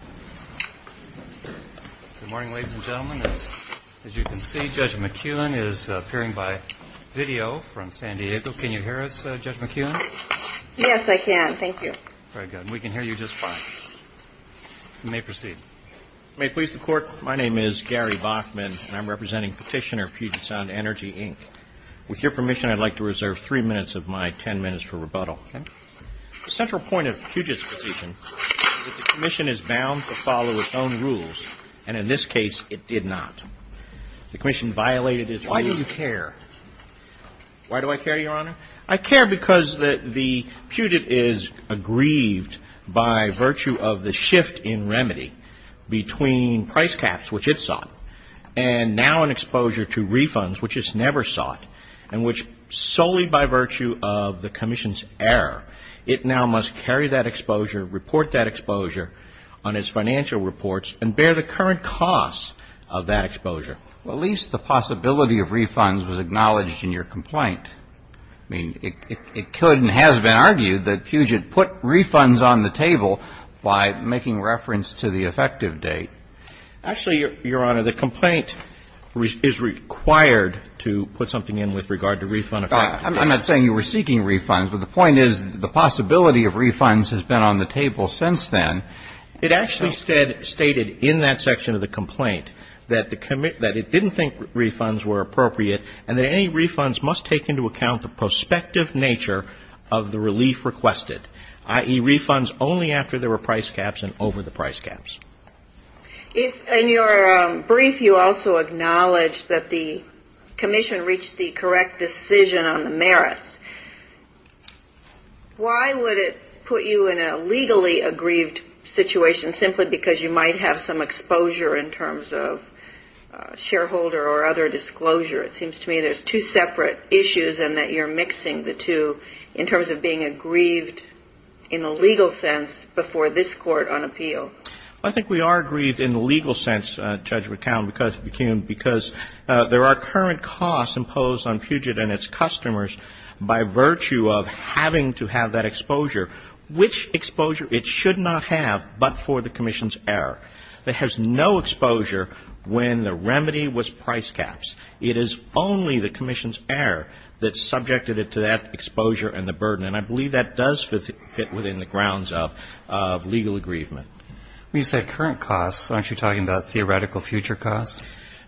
Good morning, ladies and gentlemen. As you can see, Judge McEwen is appearing by video from San Diego. Can you hear us, Judge McEwen? Yes, I can. Thank you. Very good. We can hear you just fine. You may proceed. May it please the Court, my name is Gary Bachman, and I'm representing Petitioner, Puget Sound Energy, Inc. With your permission, I'd like to reserve three minutes of my ten minutes for rebuttal. The central point of Puget's decision is that the Commission is bound to follow its own rules, and in this case, it did not. Why do you care? Why do I care, Your Honor? I care because the Puget is aggrieved by virtue of the shift in remedy between price caps, which it sought, and now an exposure to refunds, which it's never sought, and which solely by virtue of the Commission's error, it now must carry that exposure, report that exposure on its financial reports, and bear the current costs of that exposure. Well, at least the possibility of refunds was acknowledged in your complaint. I mean, it could and has been argued that Puget put refunds on the table by making reference to the effective date. Actually, Your Honor, the complaint is required to put something in with regard to refund effect. I'm not saying you were seeking refunds, but the point is the possibility of refunds has been on the table since then. It actually stated in that section of the complaint that it didn't think refunds were appropriate, and that any refunds must take into account the prospective nature of the relief requested, i.e., refunds only after there were price caps and over the price caps. In your brief, you also acknowledged that the Commission reached the correct decision on the merits. Why would it put you in a legally aggrieved situation simply because you might have some exposure in terms of shareholder or other disclosure? It seems to me there's two separate issues and that you're mixing the two in terms of being aggrieved in a legal sense before this Court on appeal. I think we are aggrieved in the legal sense, Judge McCown, because there are current costs imposed on Puget and its customers by virtue of having to have that exposure, which exposure it should not have but for the Commission's error. It has no exposure when the remedy was price caps. It is only the Commission's error that's subjected it to that exposure and the burden, and I believe that does fit within the grounds of legal aggrievement. You said current costs. Aren't you talking about theoretical future costs?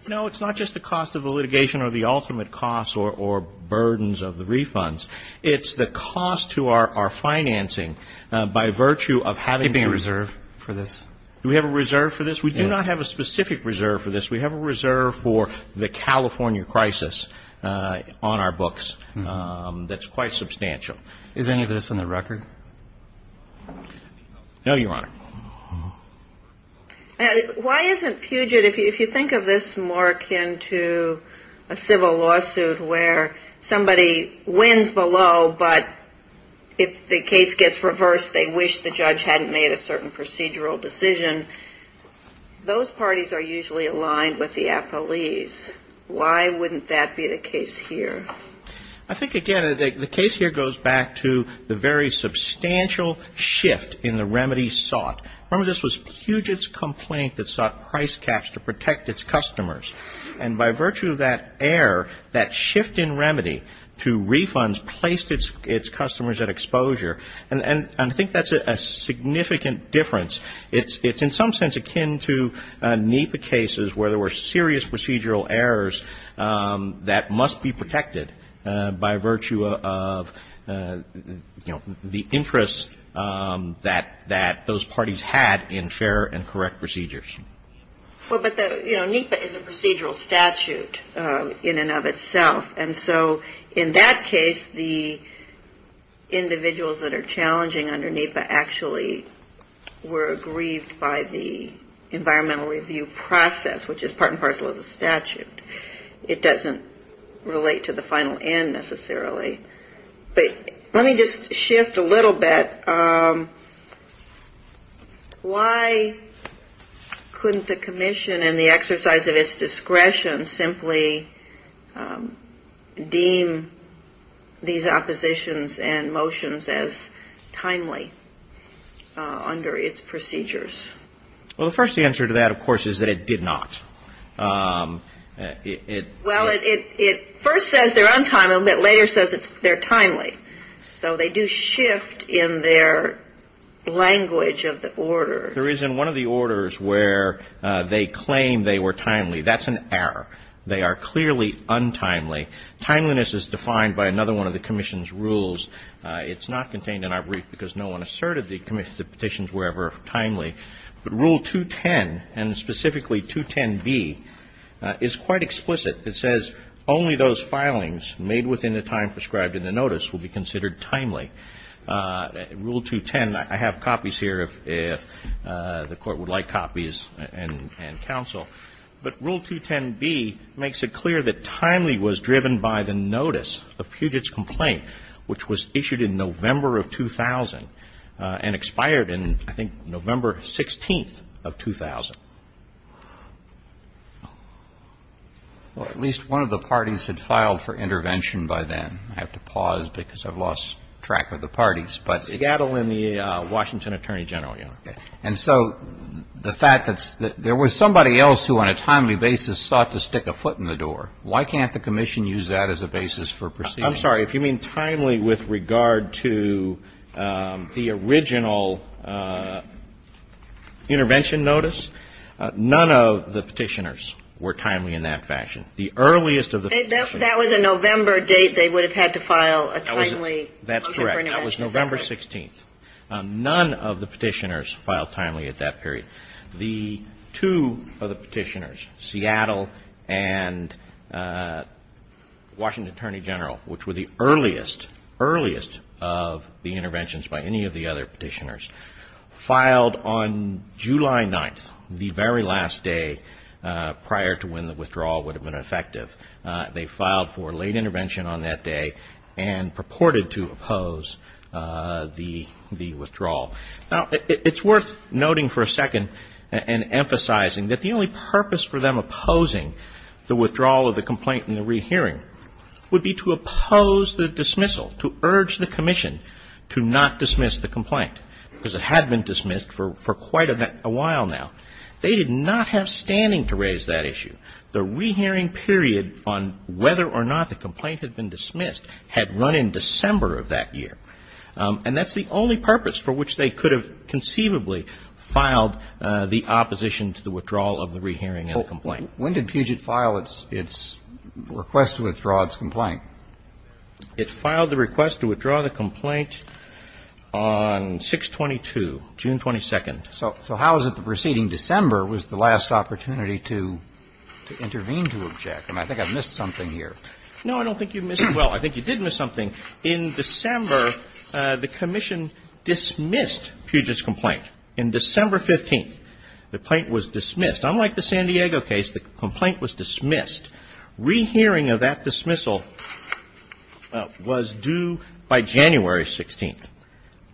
No, it's not just the cost of the litigation or the ultimate costs or burdens of the refunds. It's the cost to our financing by virtue of having the reserve for this. Do we have a reserve for this? We do not have a specific reserve for this. We have a reserve for the California crisis on our books that's quite substantial. Is any of this on the record? No, Your Honor. Why isn't Puget, if you think of this more akin to a civil lawsuit where somebody wins the law but if the case gets reversed, they wish the judge hadn't made a certain procedural decision, those parties are usually aligned with the appellees. Why wouldn't that be the case here? I think, again, the case here goes back to the very substantial shift in the remedies sought. Remember, this was Puget's complaint that sought price caps to protect its customers. And by virtue of that error, that shift in remedy to refunds placed its customers at exposure, and I think that's a significant difference. It's in some sense akin to NEPA cases where there were serious procedural errors that must be protected by virtue of the interests that those parties had in fair and correct procedures. But NEPA is a procedural statute in and of itself. And so in that case, the individuals that are challenging under NEPA actually were aggrieved by the environmental review process, which is part and parcel of the statute. It doesn't relate to the final N necessarily. But let me just shift a little bit. Why couldn't the commission in the exercise of its discretion simply deem these oppositions and motions as timely under its procedures? Well, the first answer to that, of course, is that it did not. Well, it first says they're untimely, but later says they're timely. So they do shift in their language of the order. There is in one of the orders where they claim they were timely. That's an error. They are clearly untimely. Timeliness is defined by another one of the commission's rules. It's not contained in our brief because no one asserted the petitions were ever timely. But Rule 210 and specifically 210B is quite explicit. It says only those filings made within the time prescribed in the notice will be considered timely. Rule 210, I have copies here if the court would like copies and counsel. But Rule 210B makes it clear that timely was driven by the notice of Puget's complaint, which was issued in November of 2000 and expired in, I think, November 16th of 2000. At least one of the parties had filed for intervention by then. I have to pause because I've lost track of the parties. But Gattle and the Washington Attorney General. And so the fact that there was somebody else who on a timely basis sought to stick a foot in the door, why can't the commission use that as a basis for proceeding? I'm sorry. If you mean timely with regard to the original intervention notice, none of the petitioners were timely in that fashion. The earliest of the petitioners. That was a November date they would have had to file a timely motion for intervention. That's correct. That was November 16th. None of the petitioners filed timely at that period. The two of the petitioners, Seattle and Washington Attorney General, which were the earliest of the interventions by any of the other petitioners, filed on July 9th, the very last day prior to when the withdrawal would have been effective. They filed for late intervention on that day and purported to oppose the withdrawal. Now, it's worth noting for a second and emphasizing that the only purpose for them opposing the withdrawal of the complaint and the rehearing would be to oppose the dismissal, to urge the commission to not dismiss the complaint. Because it had been dismissed for quite a while now. They did not have standing to raise that issue. The rehearing period on whether or not the complaint had been dismissed had run in December of that year. And that's the only purpose for which they could have conceivably filed the opposition to the withdrawal of the rehearing of the complaint. When did Puget file its request to withdraw its complaint? It filed the request to withdraw the complaint on 6-22, June 22nd. So how is it the preceding December was the last opportunity to intervene to object? I think I missed something here. No, I don't think you missed it. Well, I think you did miss something. In December, the commission dismissed Puget's complaint. In December 15th, the complaint was dismissed. Unlike the San Diego case, the complaint was dismissed. Rehearing of that dismissal was due by January 16th.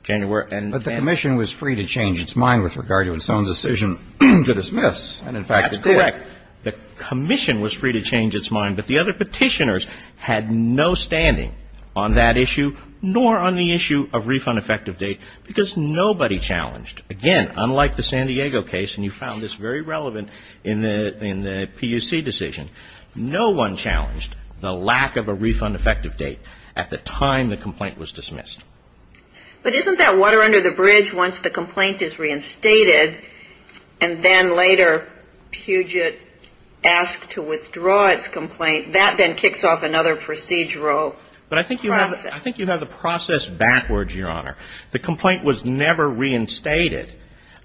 But the commission was free to change its mind with regard to its own decision to dismiss. That's correct. The commission was free to change its mind. But the other petitioners had no standing on that issue nor on the issue of refund effective date because nobody challenged. Again, unlike the San Diego case, and you found this very relevant in the PUC decision, no one challenged the lack of a refund effective date at the time the complaint was dismissed. But isn't that water under the bridge once the complaint is reinstated and then later Puget asks to withdraw its complaint? That then kicks off another procedural process. But I think you have the process backwards, Your Honor. The complaint was never reinstated.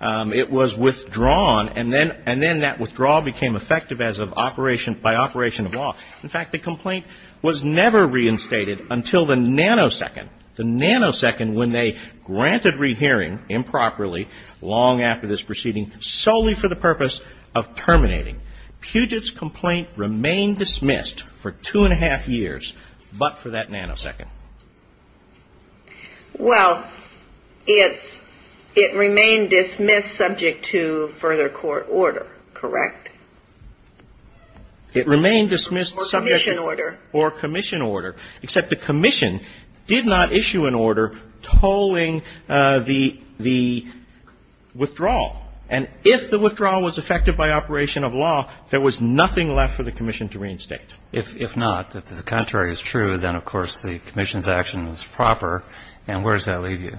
It was withdrawn, and then that withdrawal became effective by operation of law. In fact, the complaint was never reinstated until the nanosecond, the nanosecond when they granted rehearing improperly long after this proceeding solely for the purpose of terminating. Puget's complaint remained dismissed for two and a half years but for that nanosecond. Well, it remained dismissed subject to further court order, correct? It remained dismissed for commission order. Except the commission did not issue an order tolling the withdrawal. And if the withdrawal was effective by operation of law, there was nothing left for the commission to reinstate. If not, if the contrary is true, then of course the commission's action is proper. And where does that leave you?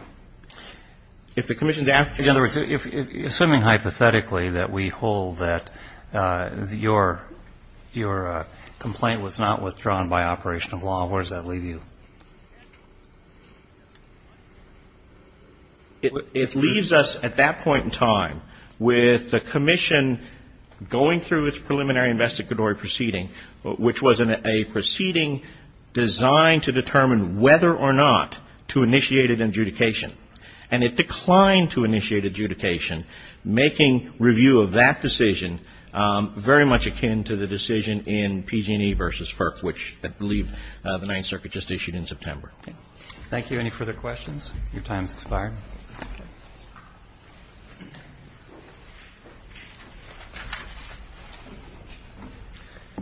Assuming hypothetically that we hold that your complaint was not withdrawn by operation of law, where does that leave you? It leaves us at that point in time with the commission going through its preliminary investigatory proceeding, which was a proceeding designed to determine whether or not to initiate an adjudication. And it declined to initiate adjudication, making review of that decision very much akin to the decision in PG&E versus FERC, which I believe the Ninth Circuit just issued in September. Thank you. Any further questions? Your time has expired.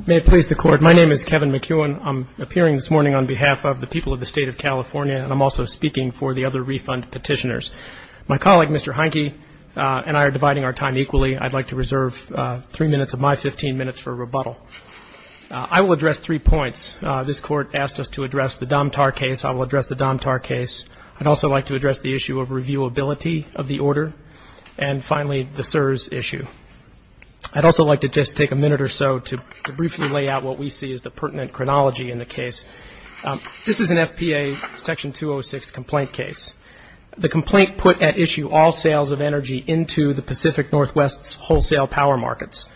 May it please the Court, my name is Kevin McEwen. I'm appearing this morning on behalf of the people of the State of California, and I'm also speaking for the other refund petitioners. My colleague, Mr. Heineke, and I are dividing our time equally. I'd like to reserve three minutes of my 15 minutes for rebuttal. I will address three points. This Court asked us to address the Dom-Tar case. I will address the Dom-Tar case. I'd also like to address the issue of reviewability of the order, and finally, the CSRS issue. I'd also like to just take a minute or so to briefly lay out what we see as the pertinent chronology in the case. This is an FPA Section 206 complaint case. The complaint put at issue all sales of energy into the Pacific Northwest wholesale power markets.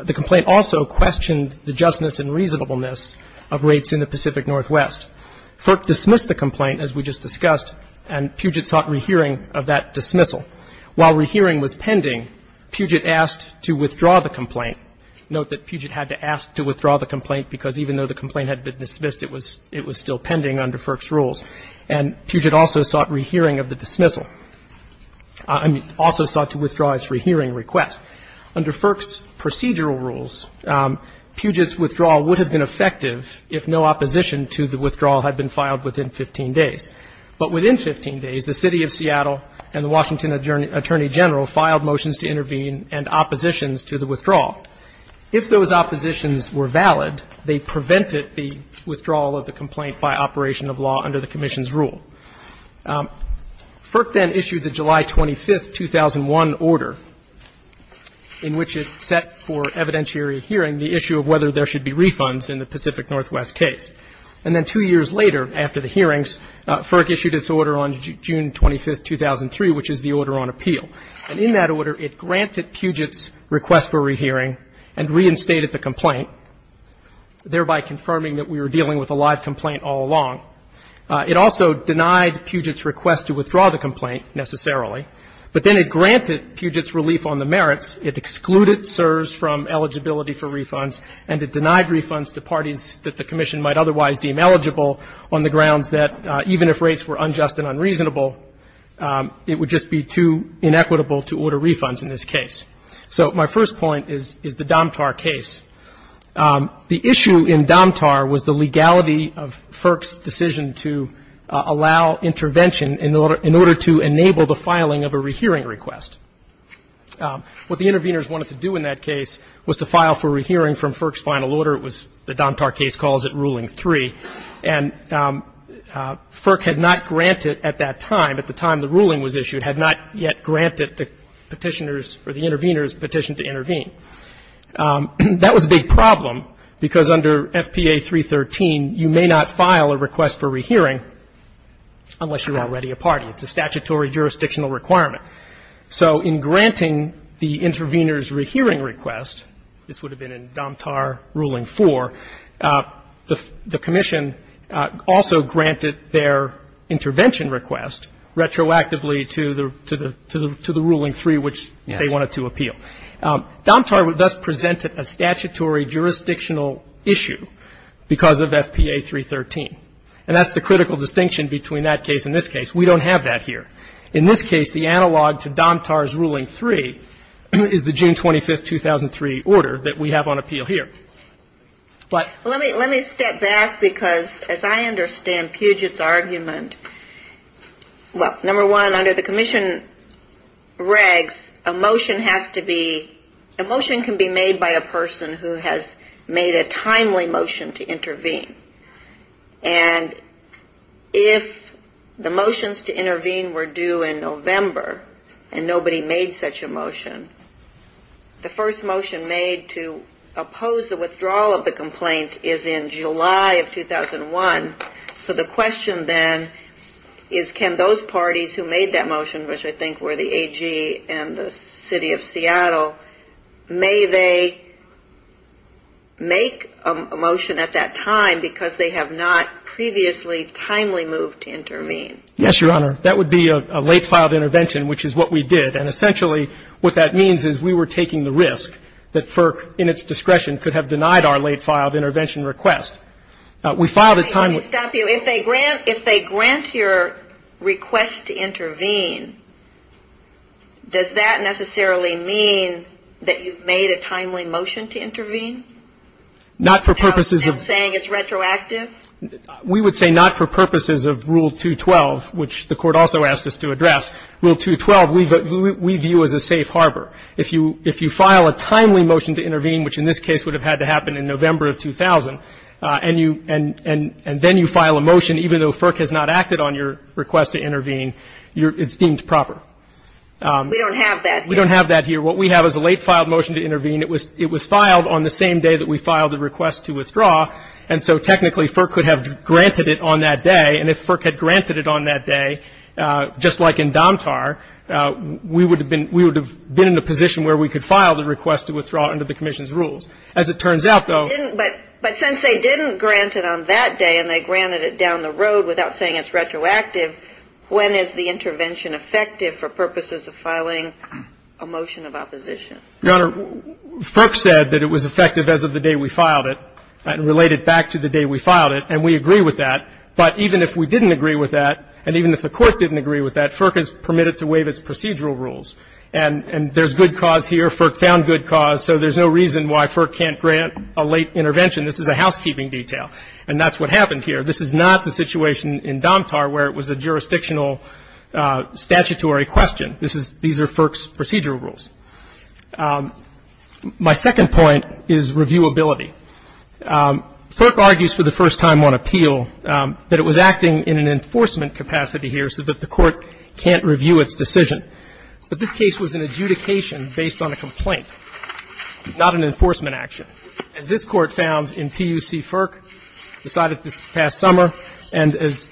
The complaint also questioned the justness and reasonableness of rates in the Pacific Northwest. FERC dismissed the complaint, as we just discussed, and Puget sought rehearing of that dismissal. While rehearing was pending, Puget asked to withdraw the complaint. Note that Puget had to ask to withdraw the complaint because even though the complaint had been dismissed, it was still pending under FERC's rules, and Puget also sought rehearing of the dismissal. I mean, also sought to withdraw his rehearing request. Under FERC's procedural rules, Puget's withdrawal would have been effective if no opposition to the withdrawal had been filed within 15 days. But within 15 days, the City of Seattle and the Washington Attorney General filed motions to intervene and oppositions to the withdrawal. If those oppositions were valid, they prevented the withdrawal of the complaint by operation of law under the Commission's rule. FERC then issued the July 25, 2001 order in which it set for evidentiary hearing the issue of whether there should be refunds in the Pacific Northwest case. And then two years later, after the hearings, FERC issued its order on June 25, 2003, which is the order on appeal. And in that order, it granted Puget's request for rehearing and reinstated the complaint, thereby confirming that we were dealing with a live complaint all along. It also denied Puget's request to withdraw the complaint, necessarily, but then it granted Puget's relief on the merits. It excluded CSRS from eligibility for refunds, and it denied refunds to parties that the Commission might otherwise deem eligible on the grounds that even if rates were unjust and unreasonable, it would just be too inequitable to order refunds in this case. So my first point is the Domtar case. The issue in Domtar was the legality of FERC's decision to allow intervention in order to enable the filing of a rehearing request. What the intervenors wanted to do in that case was to file for rehearing from FERC's final order. It was the Domtar case calls it Ruling 3. And FERC had not granted at that time, at the time the ruling was issued, had not yet granted the petitioners or the intervenors petition to intervene. That was a big problem because under FPA 313, you may not file a request for rehearing unless you're already a party. It's a statutory jurisdictional requirement. So in granting the intervenors' rehearing request, this would have been in Domtar Ruling 4, the Commission also granted their intervention request retroactively to the Ruling 3, which they wanted to appeal. Domtar thus presented a statutory jurisdictional issue because of FPA 313. And that's the critical distinction between that case and this case. We don't have that here. In this case, the analog to Domtar's Ruling 3 is the June 25, 2003 order that we have on appeal here. Let me step back because as I understand Puget's argument, well, number one, under the Commission regs, a motion has to be, a motion can be made by a person who has made a timely motion to intervene. And if the motions to intervene were due in November and nobody made such a motion, the first motion made to oppose the withdrawal of the complaint is in July of 2001. So the question then is can those parties who made that motion, which I think were the AG and the City of Seattle, may they make a motion at that time because they have not previously timely moved to intervene? Yes, Your Honor. That would be a late filed intervention, which is what we did. And essentially what that means is we were taking the risk that FERC, in its discretion, could have denied our late filed intervention request. Let me stop you. If they grant your request to intervene, does that necessarily mean that you've made a timely motion to intervene? Not for purposes of... Are you saying it's retroactive? We would say not for purposes of Rule 212, which the Court also asked us to address. Rule 212 we view as a safe harbor. If you file a timely motion to intervene, which in this case would have had to happen in November of 2000, and then you file a motion even though FERC has not acted on your request to intervene, it's deemed proper. We don't have that here. We don't have that here. What we have is a late filed motion to intervene. It was filed on the same day that we filed the request to withdraw, and so technically FERC could have granted it on that day, and if FERC had granted it on that day, just like in Domtar, we would have been in the position where we could file the request to withdraw under the Commission's rules. As it turns out, though... But since they didn't grant it on that day, and they granted it down the road without saying it's retroactive, when is the intervention effective for purposes of filing a motion of opposition? Your Honor, FERC said that it was effective as of the day we filed it, and related back to the day we filed it, and we agree with that. But even if we didn't agree with that, and even if the Court didn't agree with that, FERC has permitted to waive its procedural rules, and there's good cause here. FERC found good cause, so there's no reason why FERC can't grant a late intervention. This is a housekeeping detail, and that's what happened here. This is not the situation in Domtar where it was a jurisdictional statutory question. These are FERC's procedural rules. My second point is reviewability. FERC argues for the first time on appeal that it was acting in an enforcement capacity here so that the Court can't review its decision. But this case was an adjudication based on a complaint, not an enforcement action. As this Court found in PUC FERC decided this past summer, and as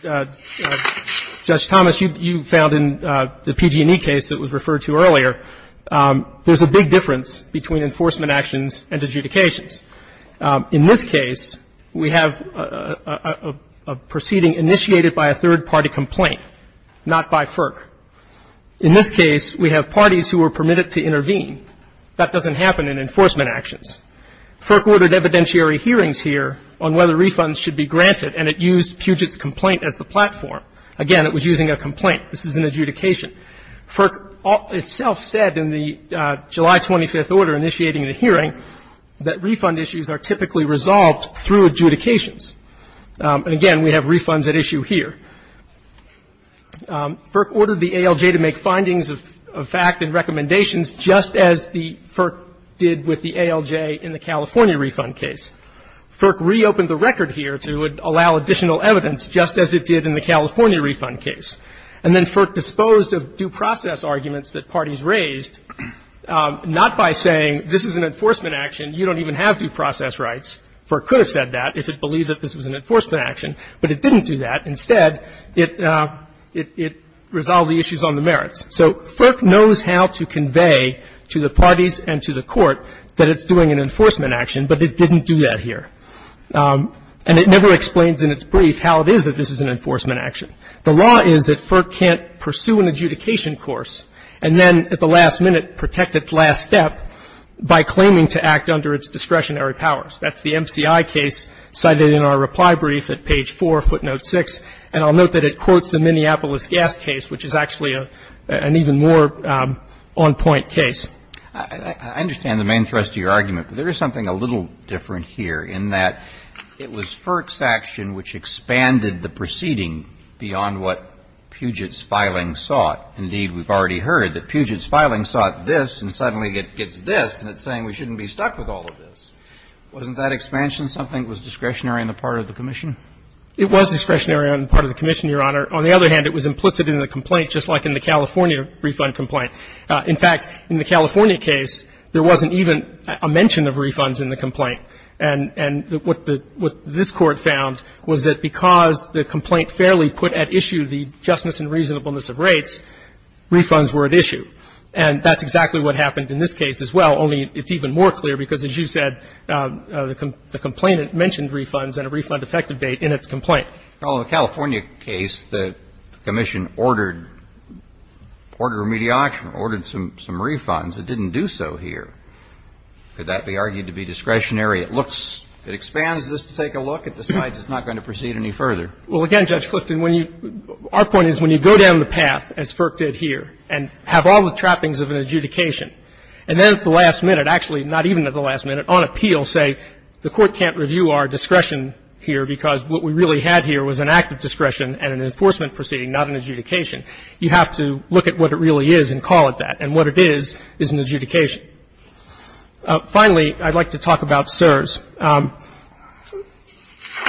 Judge Thomas, you found in the PG&E case that was referred to earlier, there's a big difference between enforcement actions and adjudications. In this case, we have a proceeding initiated by a third-party complaint, not by FERC. In this case, we have parties who were permitted to intervene. That doesn't happen in enforcement actions. FERC ordered evidentiary hearings here on whether refunds should be granted, and it used Puget's complaint as the platform. Again, it was using a complaint. This is an adjudication. FERC itself said in the July 25th order initiating the hearing that refund issues are typically resolved through adjudications. And again, we have refunds at issue here. FERC ordered the ALJ to make findings of fact and recommendations just as FERC did with the ALJ in the California refund case. FERC reopened the record here to allow additional evidence, just as it did in the California refund case. And then FERC disposed of due process arguments that parties raised, not by saying this is an enforcement action, you don't even have due process rights. FERC could have said that if it believed that this was an enforcement action, but it didn't do that. Instead, it resolved the issues on the merits. So FERC knows how to convey to the parties and to the court that it's doing an enforcement action, but it didn't do that here. And it never explains in its brief how it is that this is an enforcement action. The law is that FERC can't pursue an adjudication course and then at the last minute protect its last step by claiming to act under its discretionary powers. That's the MCI case cited in our reply brief at page 4, footnote 6. And I'll note that it quotes the Minneapolis gas case, which is actually an even more on-point case. I understand the main thrust of your argument, but there is something a little different here in that it was FERC's action which expanded the proceeding beyond what Puget's filing sought. Indeed, we've already heard that Puget's filing sought this and suddenly it gets this and it's saying we shouldn't be stuck with all of this. Wasn't that expansion something? It was discretionary on the part of the Commission? It was discretionary on the part of the Commission, Your Honor. On the other hand, it was implicit in the complaint just like in the California refund complaint. In fact, in the California case, there wasn't even a mention of refunds in the complaint. And what this Court found was that because the complaint fairly put at issue the justness and reasonableness of rates, refunds were at issue. And that's exactly what happened in this case as well, only it's even more clear because, as you said, the complainant mentioned refunds and a refund effective date in its complaint. Well, in the California case, the Commission ordered remediation, ordered some refunds. It didn't do so here. Could that be argued to be discretionary? It looks to expand. Does this take a look at the side that's not going to proceed any further? Well, again, Judge Clifton, our point is when you go down the path, as FERC did here, and have all the trappings of an adjudication, and then at the last minute, actually not even at the last minute, on appeal, say the Court can't review our discretion here because what we really had here was an active discretion and an enforcement proceeding, not an adjudication. You have to look at what it really is and call it that. And what it is is an adjudication. Finally, I'd like to talk about CSRS.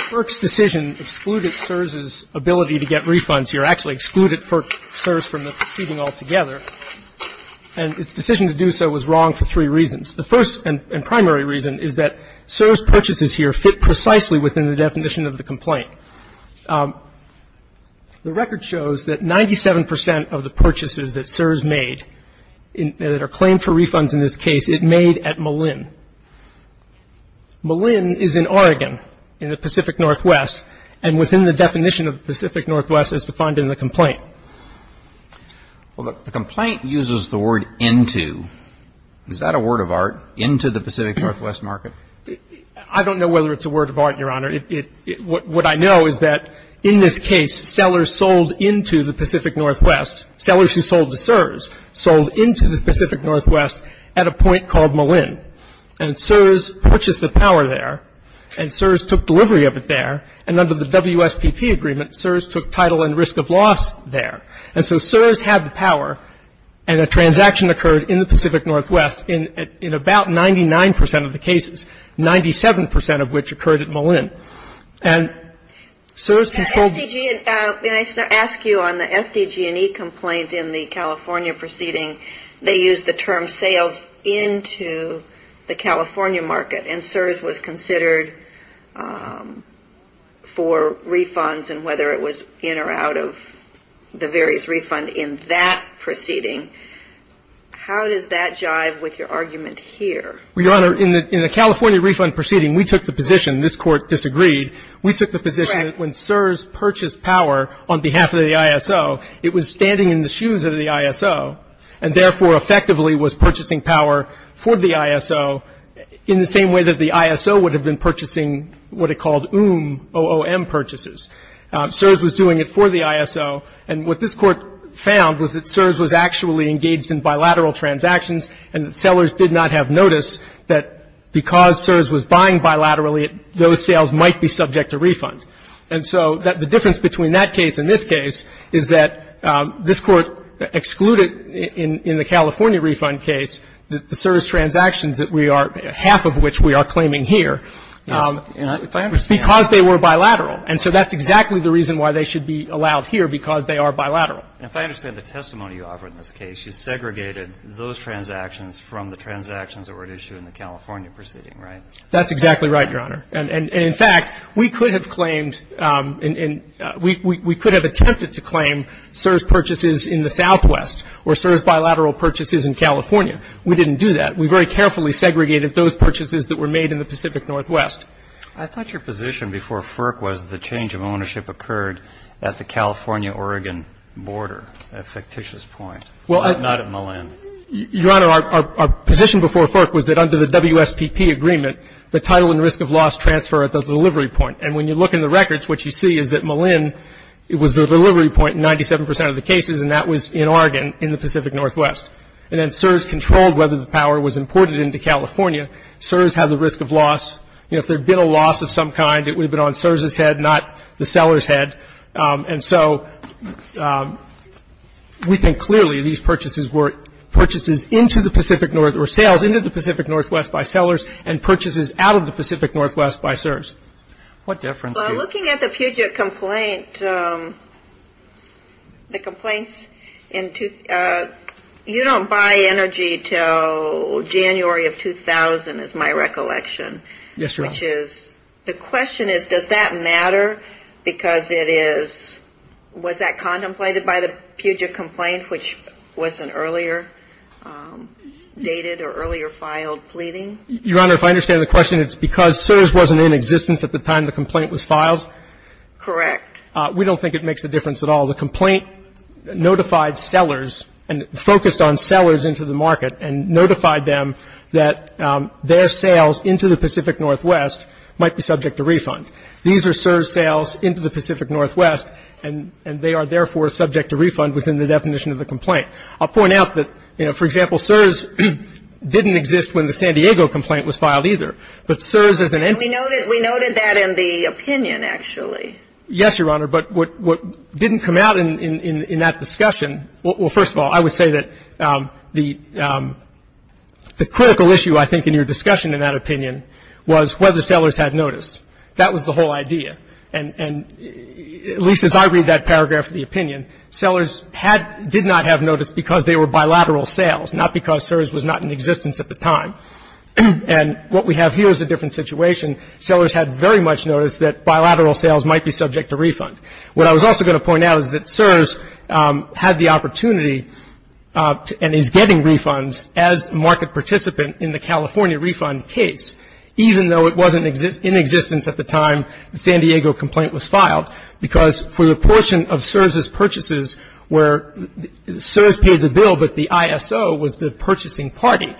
FERC's decision excluded CSRS's ability to get refunds here, actually excluded FERC CSRS from the proceeding altogether. And its decision to do so was wrong for three reasons. The first and primary reason is that CSRS purchases here fit precisely within the definition of the complaint. The record shows that 97% of the purchases that CSRS made that are claimed for refunds in this case, it made at Malin. Malin is in Oregon, in the Pacific Northwest, and within the definition of the Pacific Northwest as defined in the complaint. Well, the complaint uses the word into. Is that a word of art, into the Pacific Northwest market? I don't know whether it's a word of art, Your Honor. What I know is that in this case, sellers sold into the Pacific Northwest. Sellers who sold to CSRS sold into the Pacific Northwest at a point called Malin. And CSRS purchased the power there, and CSRS took delivery of it there, and under the WSPP agreement, CSRS took title and risk of loss there. And so CSRS had the power, and a transaction occurred in the Pacific Northwest in about 99% of the cases, 97% of which occurred at Malin. May I ask you on the SDG&E complaints in the California proceeding, they used the term sales into the California market, and CSRS was considered for refunds, and whether it was in or out of the various refunds in that proceeding. How does that jive with your argument here? Well, Your Honor, in the California refund proceeding, we took the position, this Court disagreed, we took the position that when CSRS purchased power on behalf of the ISO, it was standing in the shoes of the ISO, and therefore effectively was purchasing power for the ISO in the same way that the ISO would have been purchasing what it called OOM purchases. CSRS was doing it for the ISO, and what this Court found was that CSRS was actually engaged in bilateral transactions, and the sellers did not have notice that because CSRS was buying bilaterally, those sales might be subject to refund. And so the difference between that case and this case is that this Court excluded in the California refund case the CSRS transactions that we are, half of which we are claiming here, because they were bilateral. And so that's exactly the reason why they should be allowed here, because they are bilateral. If I understand the testimony you offer in this case, you segregated those transactions from the transactions that were at issue in the California proceeding, right? That's exactly right, Your Honor. And, in fact, we could have claimed and we could have attempted to claim CSRS purchases in the southwest or CSRS bilateral purchases in California. We didn't do that. We very carefully segregated those purchases that were made in the Pacific Northwest. I thought your position before FERC was the change of ownership occurred at the California-Oregon border, a fictitious point, not in the land. Your Honor, our position before FERC was that under the WSPP agreement, the title and risk of loss transfer at the delivery point. And when you look in the records, what you see is that Malin was the delivery point in 97% of the cases, and that was in Oregon in the Pacific Northwest. And then CSRS controlled whether the power was imported into California. CSRS has a risk of loss. If there had been a loss of some kind, it would have been on CSRS's head, not the seller's head. And so we think clearly these purchases were purchases into the Pacific Northwest, or sales into the Pacific Northwest by sellers, and purchases out of the Pacific Northwest by CSRS. Looking at the Puget complaint, you don't buy energy until January of 2000 is my recollection. Yes, Your Honor. The question is, does that matter because it is, was that contemplated by the Puget complaint, which was an earlier dated or earlier filed pleading? Your Honor, if I understand the question, it's because CSRS wasn't in existence at the time the complaint was filed? Correct. We don't think it makes a difference at all. The complaint notified sellers and focused on sellers into the market and notified them that their sales into the Pacific Northwest might be subject to refund. These are CSRS sales into the Pacific Northwest, and they are therefore subject to refund within the definition of the complaint. I'll point out that, you know, for example, CSRS didn't exist when the San Diego complaint was filed either. But CSRS is an entity. We noted that in the opinion, actually. Yes, Your Honor, but what didn't come out in that discussion, well, first of all, I would say that the critical issue, I think, in your discussion in that opinion was whether sellers had noticed. That was the whole idea. And at least as I read that paragraph in the opinion, sellers did not have notice because they were bilateral sales, not because CSRS was not in existence at the time. And what we have here is a different situation. Sellers had very much noticed that bilateral sales might be subject to refund. What I was also going to point out is that CSRS had the opportunity and is getting refunds as a market participant in the California refund case, even though it wasn't in existence at the time the San Diego complaint was filed. Because for the portion of CSRS's purchases where CSRS paid the bill, but the ISO was the purchasing party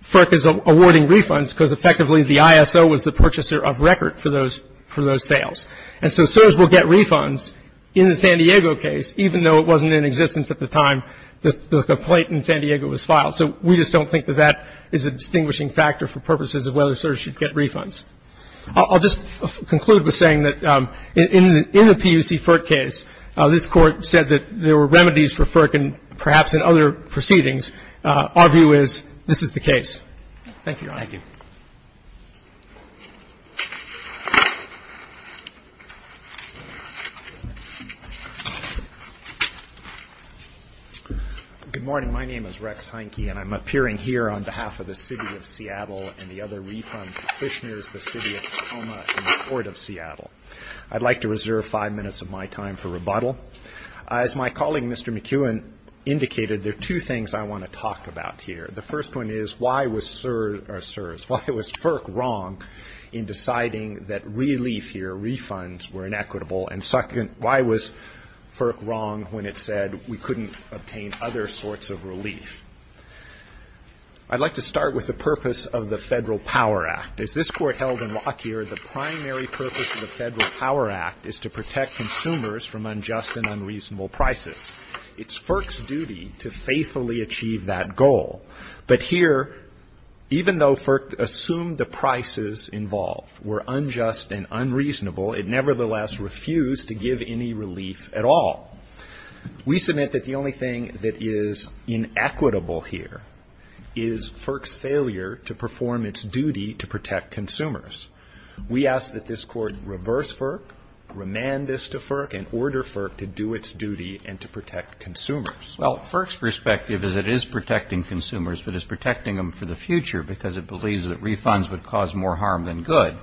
for awarding refunds because effectively the ISO was the purchaser of record for those sales. And so CSRS will get refunds in the San Diego case, even though it wasn't in existence at the time the complaint in San Diego was filed. So we just don't think that that is a distinguishing factor for purposes of whether CSRS should get refunds. I'll just conclude with saying that in the PUC FERC case, this court said that there were remedies for FERC and perhaps in other proceedings. Our view is this is the case. Thank you. Good morning. My name is Rex Heineke and I'm appearing here on behalf of the city of Seattle and the other refund practitioners, the city of Tacoma and the court of Seattle. I'd like to reserve five minutes of my time for rebuttal. As my colleague Mr. McEwen indicated, there are two things I want to talk about here. The first one is why was CSRS, why was FERC wrong in deciding that relief here, refunds were inequitable and second, why was FERC wrong when it said we couldn't obtain other sorts of relief? I'd like to start with the purpose of the Federal Power Act. As this court held in Lockyer, the primary purpose of the Federal Power Act is to protect consumers from unjust and unreasonable prices. It's FERC's duty to faithfully achieve that goal. But here, even though FERC assumed the prices involved were unjust and unreasonable, it nevertheless refused to give any relief at all. We submit that the only thing that is inequitable here is FERC's failure to perform its duty to protect consumers. We ask that this court reverse FERC, remand this to FERC and order FERC to do its duty and to protect consumers. Well, FERC's perspective is it is protecting consumers, but it's protecting them for the future because it believes that refunds would cause more harm than good.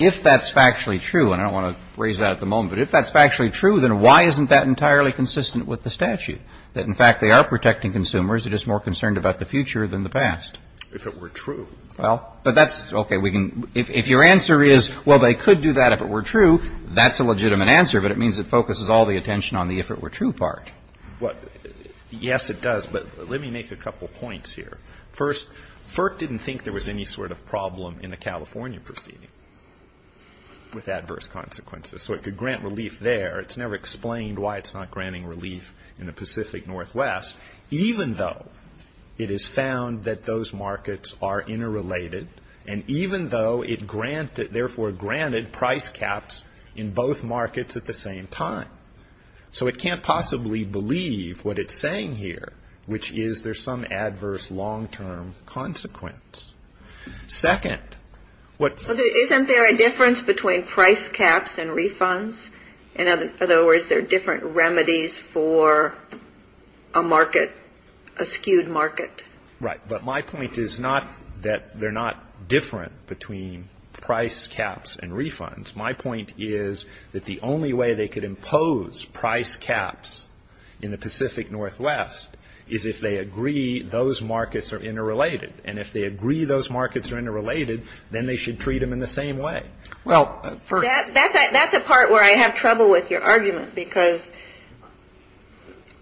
If that's factually true, and I don't want to phrase that at the moment, but if that's factually true, then why isn't that entirely consistent with the statute, that in fact they are protecting consumers, they're just more concerned about the future than the past? If it were true. Well, but that's okay. If your answer is, well, they could do that if it were true, that's a legitimate answer, but it means it focuses all the attention on the if it were true part. Yes, it does, but let me make a couple points here. First, FERC didn't think there was any sort of problem in the California proceeding with adverse consequences, so it could grant relief there. It's never explained why it's not granting relief in the Pacific Northwest, even though it has found that those markets are interrelated, and even though it, therefore, granted price caps in both markets at the same time. So it can't possibly believe what it's saying here, which is there's some adverse long-term consequence. Second, what... Isn't there a difference between price caps and refunds? In other words, there are different remedies for a market, a skewed market. Right, but my point is not that they're not different between price caps and refunds. My point is that the only way they could impose price caps in the Pacific Northwest is if they agree those markets are interrelated, and if they agree those markets are interrelated, then they should treat them in the same way. That's a part where I have trouble with your argument, because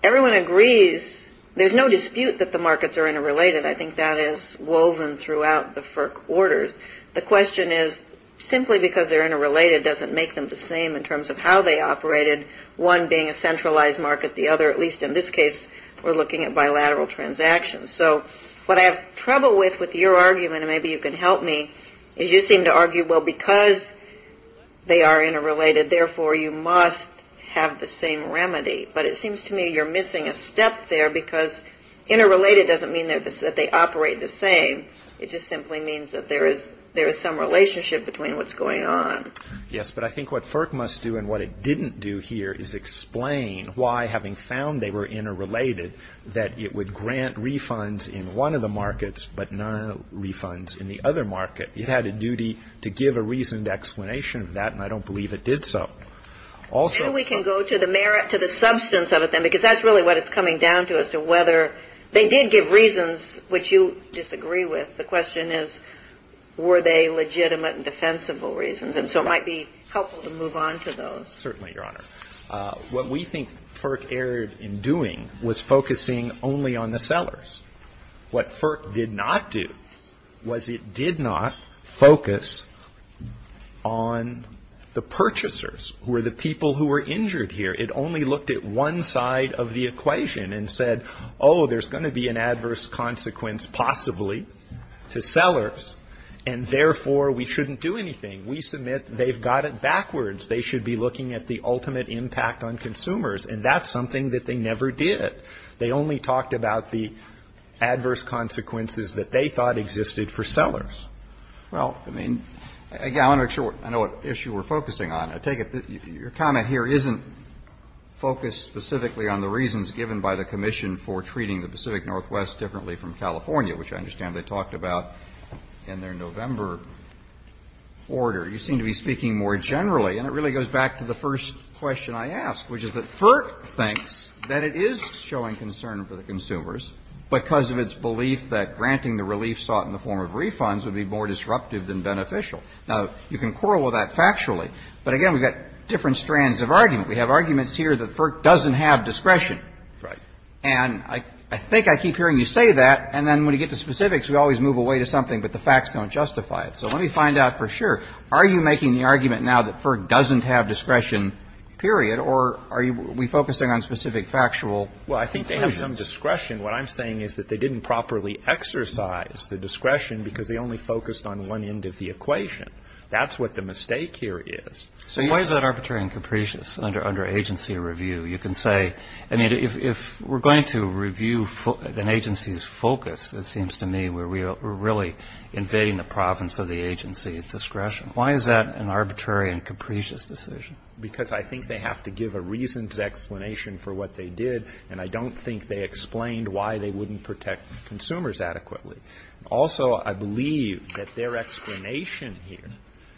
everyone agrees there's no dispute that the markets are interrelated. I think that is woven throughout the FERC orders. The question is simply because they're interrelated doesn't make them the same in terms of how they operated, one being a centralized market, the other, at least in this case, we're looking at bilateral transactions. So what I have trouble with with your argument, and maybe you can help me, is you seem to argue, well, because they are interrelated, therefore, you must have the same remedy. But it seems to me you're missing a step there, because interrelated doesn't mean that they operate the same. It just simply means that there is some relationship between what's going on. Yes, but I think what FERC must do and what it didn't do here is explain why, having found they were interrelated, that it would grant refunds in one of the markets but no refunds in the other market. It had a duty to give a reasoned explanation of that, and I don't believe it did so. So we can go to the merit, to the substance of it then, because that's really what it's coming down to, as to whether they did give reasons which you disagree with. The question is, were they legitimate and defensible reasons? And so it might be helpful to move on to those. Certainly, Your Honor. What we think FERC erred in doing was focusing only on the sellers. What FERC did not do was it did not focus on the purchasers, who were the people who were injured here. It only looked at one side of the equation and said, oh, there's going to be an adverse consequence possibly to sellers, and therefore we shouldn't do anything. We submit they've got it backwards. They should be looking at the ultimate impact on consumers, and that's something that they never did. They only talked about the adverse consequences that they thought existed for sellers. Well, I mean, Your Honor, I know what issue we're focusing on. I take it your comment here isn't focused specifically on the reasons given by the commission for treating the Pacific Northwest differently from California, which I understand they talked about in their November order. You seem to be speaking more generally, and it really goes back to the first question I asked, which is that FERC thinks that it is showing concern for the consumers because of its belief that granting the relief sought in the form of refunds would be more disruptive than beneficial. Now, you can quarrel with that factually, but again, we've got different strands of argument. We have arguments here that FERC doesn't have discretion. Right. And I think I keep hearing you say that, and then when you get to specifics, we always move away to something, but the facts don't justify it. So let me find out for sure. Are you making the argument now that FERC doesn't have discretion, period, or are we focusing on specific factual? Well, I think they have some discretion. What I'm saying is that they didn't properly exercise the discretion because they only focused on one end of the equation. That's what the mistake here is. So why is that arbitrary and capricious under agency review? I mean, if we're going to review an agency's focus, it seems to me we're really invading the province of the agency's discretion. Why is that an arbitrary and capricious decision? Because I think they have to give a reasons explanation for what they did, and I don't think they explained why they wouldn't protect consumers adequately. Also, I believe that their explanation here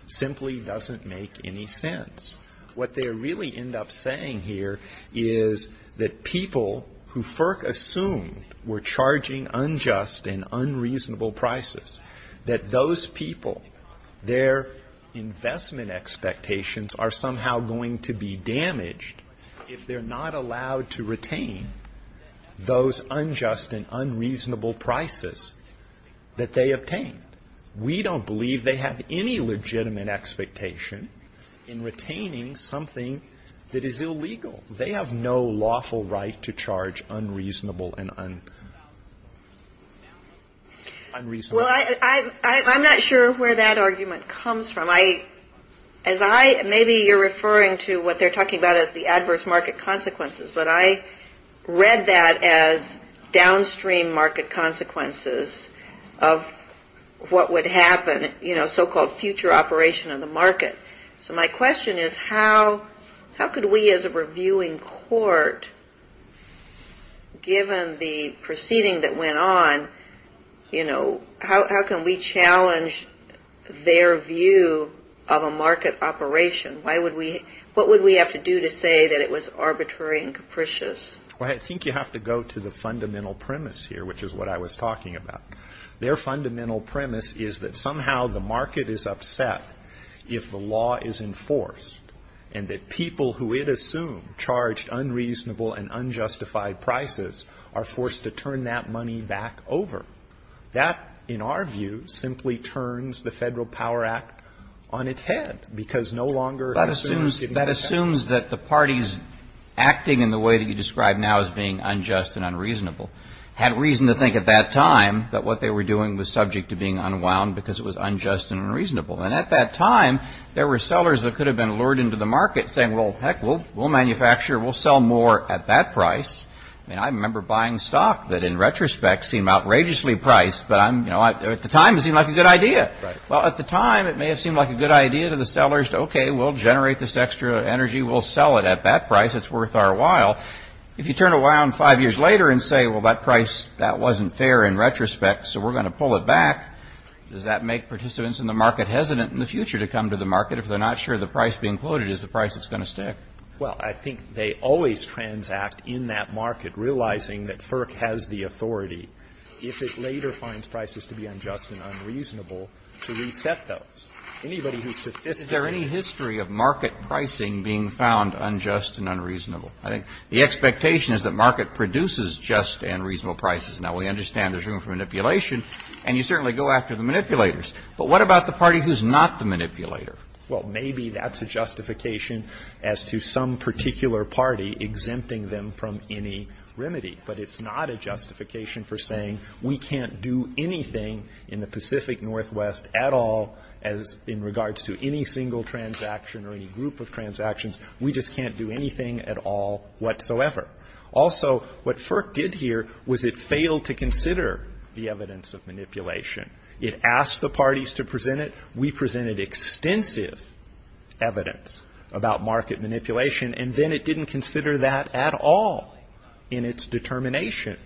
simply doesn't make any sense. What they really end up saying here is that people who FERC assumed were charging unjust and unreasonable prices, that those people, their investment expectations are somehow going to be damaged if they're not allowed to retain those unjust and unreasonable prices that they obtained. We don't believe they have any legitimate expectation in retaining something that is illegal. They have no lawful right to charge unreasonable and unreasonable prices. Well, I'm not sure where that argument comes from. Maybe you're referring to what they're talking about as the adverse market consequences, but I read that as downstream market consequences of what would happen, so-called future operation of the market. So my question is, how could we as a reviewing court, given the proceeding that went on, how can we challenge their view of a market operation? What would we have to do to say that it was arbitrary and capricious? Well, I think you have to go to the fundamental premise here, which is what I was talking about. Their fundamental premise is that somehow the market is upset if the law is enforced, and that people who it assumed charged unreasonable and unjustified prices are forced to turn that money back over. That, in our view, simply turns the Federal Power Act on its head because no longer- That assumes that the parties acting in the way that you described now as being unjust and unreasonable had reason to think at that time that what they were doing was subject to being unwound because it was unjust and unreasonable. And at that time, there were sellers that could have been lured into the market saying, well, heck, we'll manufacture, we'll sell more at that price. I mean, I remember buying stock that, in retrospect, seemed outrageously priced, but at the time, it seemed like a good idea. Well, at the time, it may have seemed like a good idea to the sellers to, okay, we'll generate this extra energy, we'll sell it at that price, it's worth our while. If you turn around five years later and say, well, that price, that wasn't fair in retrospect, so we're going to pull it back, does that make participants in the market hesitant in the future to come to the market if they're not sure the price being quoted is the price that's going to stay? Well, I think they always transact in that market, realizing that FERC has the authority, if it later finds prices to be unjust and unreasonable, to reset those. Is there any history of market pricing being found unjust and unreasonable? I think the expectation is that market produces just and reasonable prices. Now, we understand there's room for manipulation, and you certainly go after the manipulators, but what about the party who's not the manipulator? Well, maybe that's a justification as to some particular party exempting them from any remedy, but it's not a justification for saying we can't do anything in the Pacific Northwest at all in regards to any single transaction or any group of transactions. We just can't do anything at all whatsoever. Also, what FERC did here was it failed to consider the evidence of manipulation. It asked the parties to present it. We presented extensive evidence about market manipulation, and then it didn't consider that at all in its determination,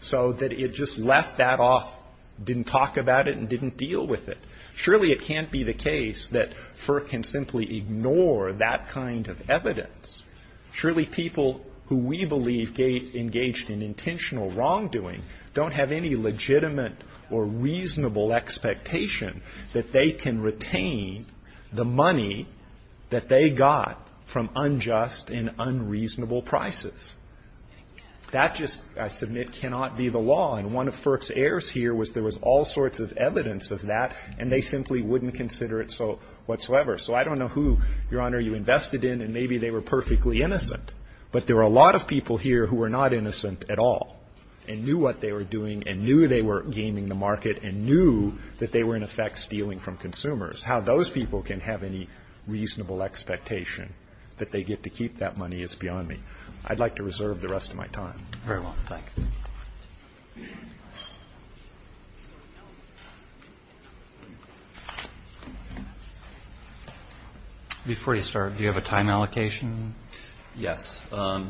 so that it just left that off, didn't talk about it, and didn't deal with it. Surely it can't be the case that FERC can simply ignore that kind of evidence. Surely people who we believe engaged in intentional wrongdoing don't have any legitimate or reasonable expectation that they can retain the money that they got from unjust and unreasonable prices. That just, I submit, cannot be the law, and one of FERC's errors here was there was all sorts of evidence of that, and they simply wouldn't consider it whatsoever. So I don't know who, Your Honor, you invested in, and maybe they were perfectly innocent, but there were a lot of people here who were not innocent at all and knew what they were doing and knew they were gaming the market and knew that they were, in effect, stealing from consumers. How those people can have any reasonable expectation that they get to keep that money is beyond me. I'd like to reserve the rest of my time. Before you start, do you have a time allocation? Yes.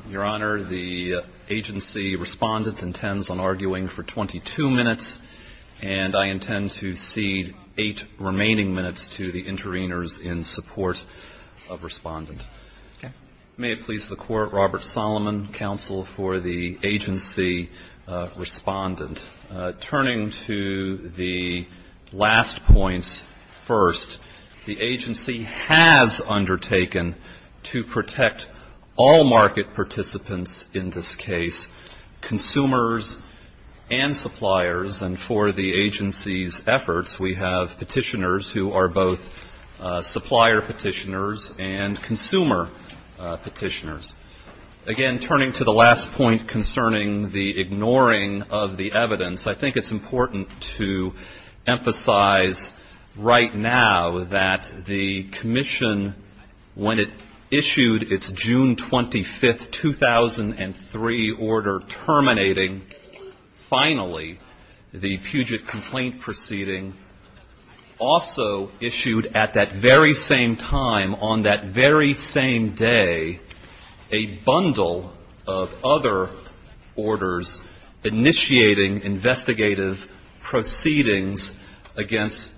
Your Honor, the agency respondent intends on arguing for 22 minutes, and I intend to cede eight remaining minutes to the intervenors in support of respondent. May it please the Court, Robert Solomon, Counsel for the Intervenors. Turning to the last points first, the agency has undertaken to protect all market participants in this case, consumers and suppliers, and for the agency's efforts, we have petitioners who are both supplier petitioners and consumer petitioners. Again, turning to the last point concerning the ignoring of the evidence, I think it's important to emphasize right now that the commission, when it issued its June 25, 2003 order terminating, finally, the Puget complaint proceeding, also issued at that very same time, on that very same day, a bundle of other orders initiating investigative proceedings against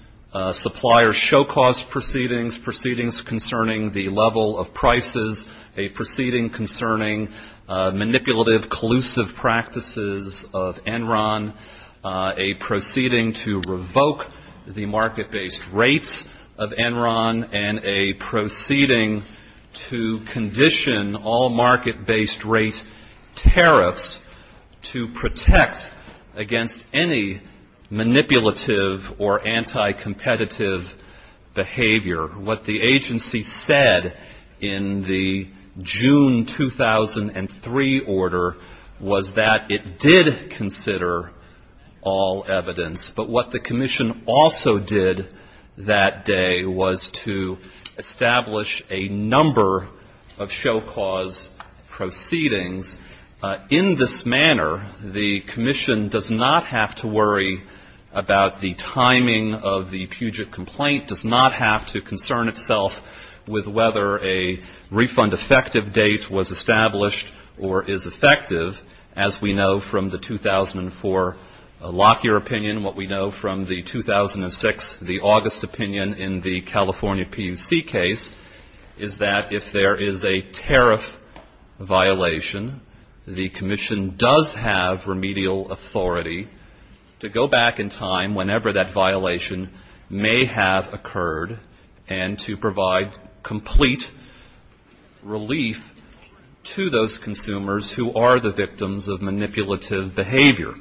suppliers, show cause proceedings, proceedings concerning the level of prices, a proceeding concerning manipulative, collusive practices of Enron, a proceeding to revoke the market-based rates of Enron, and a proceeding to condition all market-based rates tariffs to protect against any manipulative or anti-competitive behavior. However, what the agency said in the June 2003 order was that it did consider all evidence, but what the commission also did that day was to establish a number of show cause proceedings. In this manner, the commission does not have to worry about the timing of the Puget complaint, does not have to concern itself with whether a refund effective date was established or is effective, as we know from the 2004 Lockyer opinion, what we know from the 2006, the August opinion in the California PUC case, is that if there is a tariff violation, the commission does have remedial authority to go back in time whenever that violation may have occurred and to provide complete relief to those consumers who are the victims of manipulative behavior.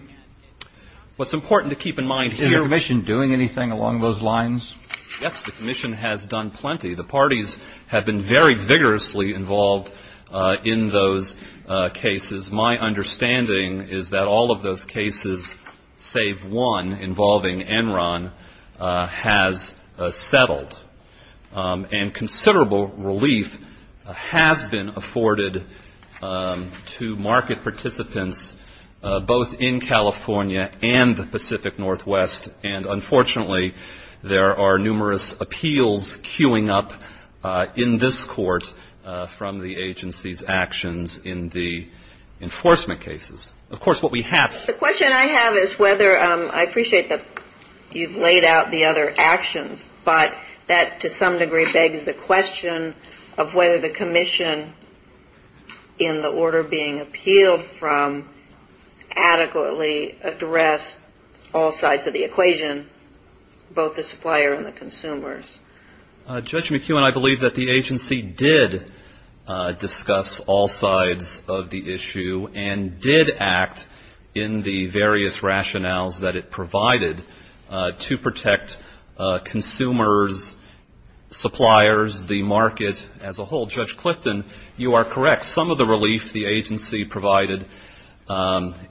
What's important to keep in mind here... Is the commission doing anything along those lines? Yes, the commission has done plenty. The parties have been very vigorously involved in those cases. My understanding is that all of those cases, save one involving Enron, has settled. And considerable relief has been afforded to market participants both in California and the Pacific Northwest, and unfortunately there are numerous appeals queuing up in this court from the agency's actions in the enforcement cases. Of course, what we have... The question I have is whether, I appreciate that you've laid out the other actions, but that to some degree begs the question of whether the commission in the order being appealed from adequately addressed all sides of the equation, both the supplier and the consumers. Judge McEwen, I believe that the agency did discuss all sides of the issue and did act in the various rationales that it provided to protect consumers, suppliers, the market as a whole. Judge Clifton, you are correct. Some of the relief the agency provided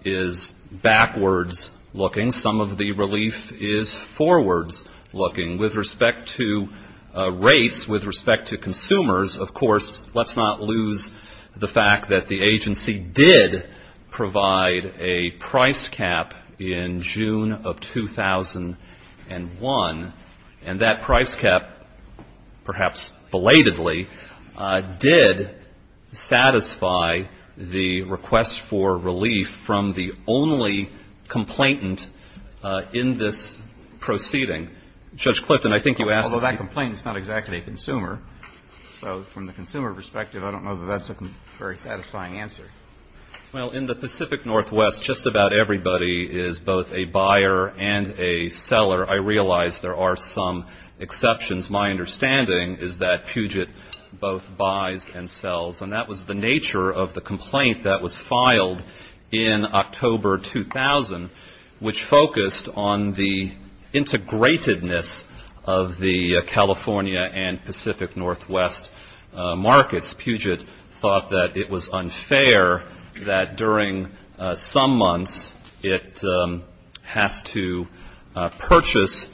is backwards looking. Some of the relief is forwards looking. With respect to rates, with respect to consumers, of course, let's not lose the fact that the agency did provide a price cap in June of 2001, and that price cap, perhaps belatedly, did satisfy the request for relief from the only complainant in this proceeding. Judge Clifton, I think you asked... Although that complainant is not exactly a consumer, so from the consumer perspective, I don't know that that's a very satisfying answer. Well, in the Pacific Northwest, just about everybody is both a buyer and a seller. I realize there are some exceptions. My understanding is that Puget both buys and sells, and that was the nature of the complaint that was filed in October 2000, which focused on the integratedness of the California and Pacific Northwest markets. Perhaps Puget thought that it was unfair that during some months it has to purchase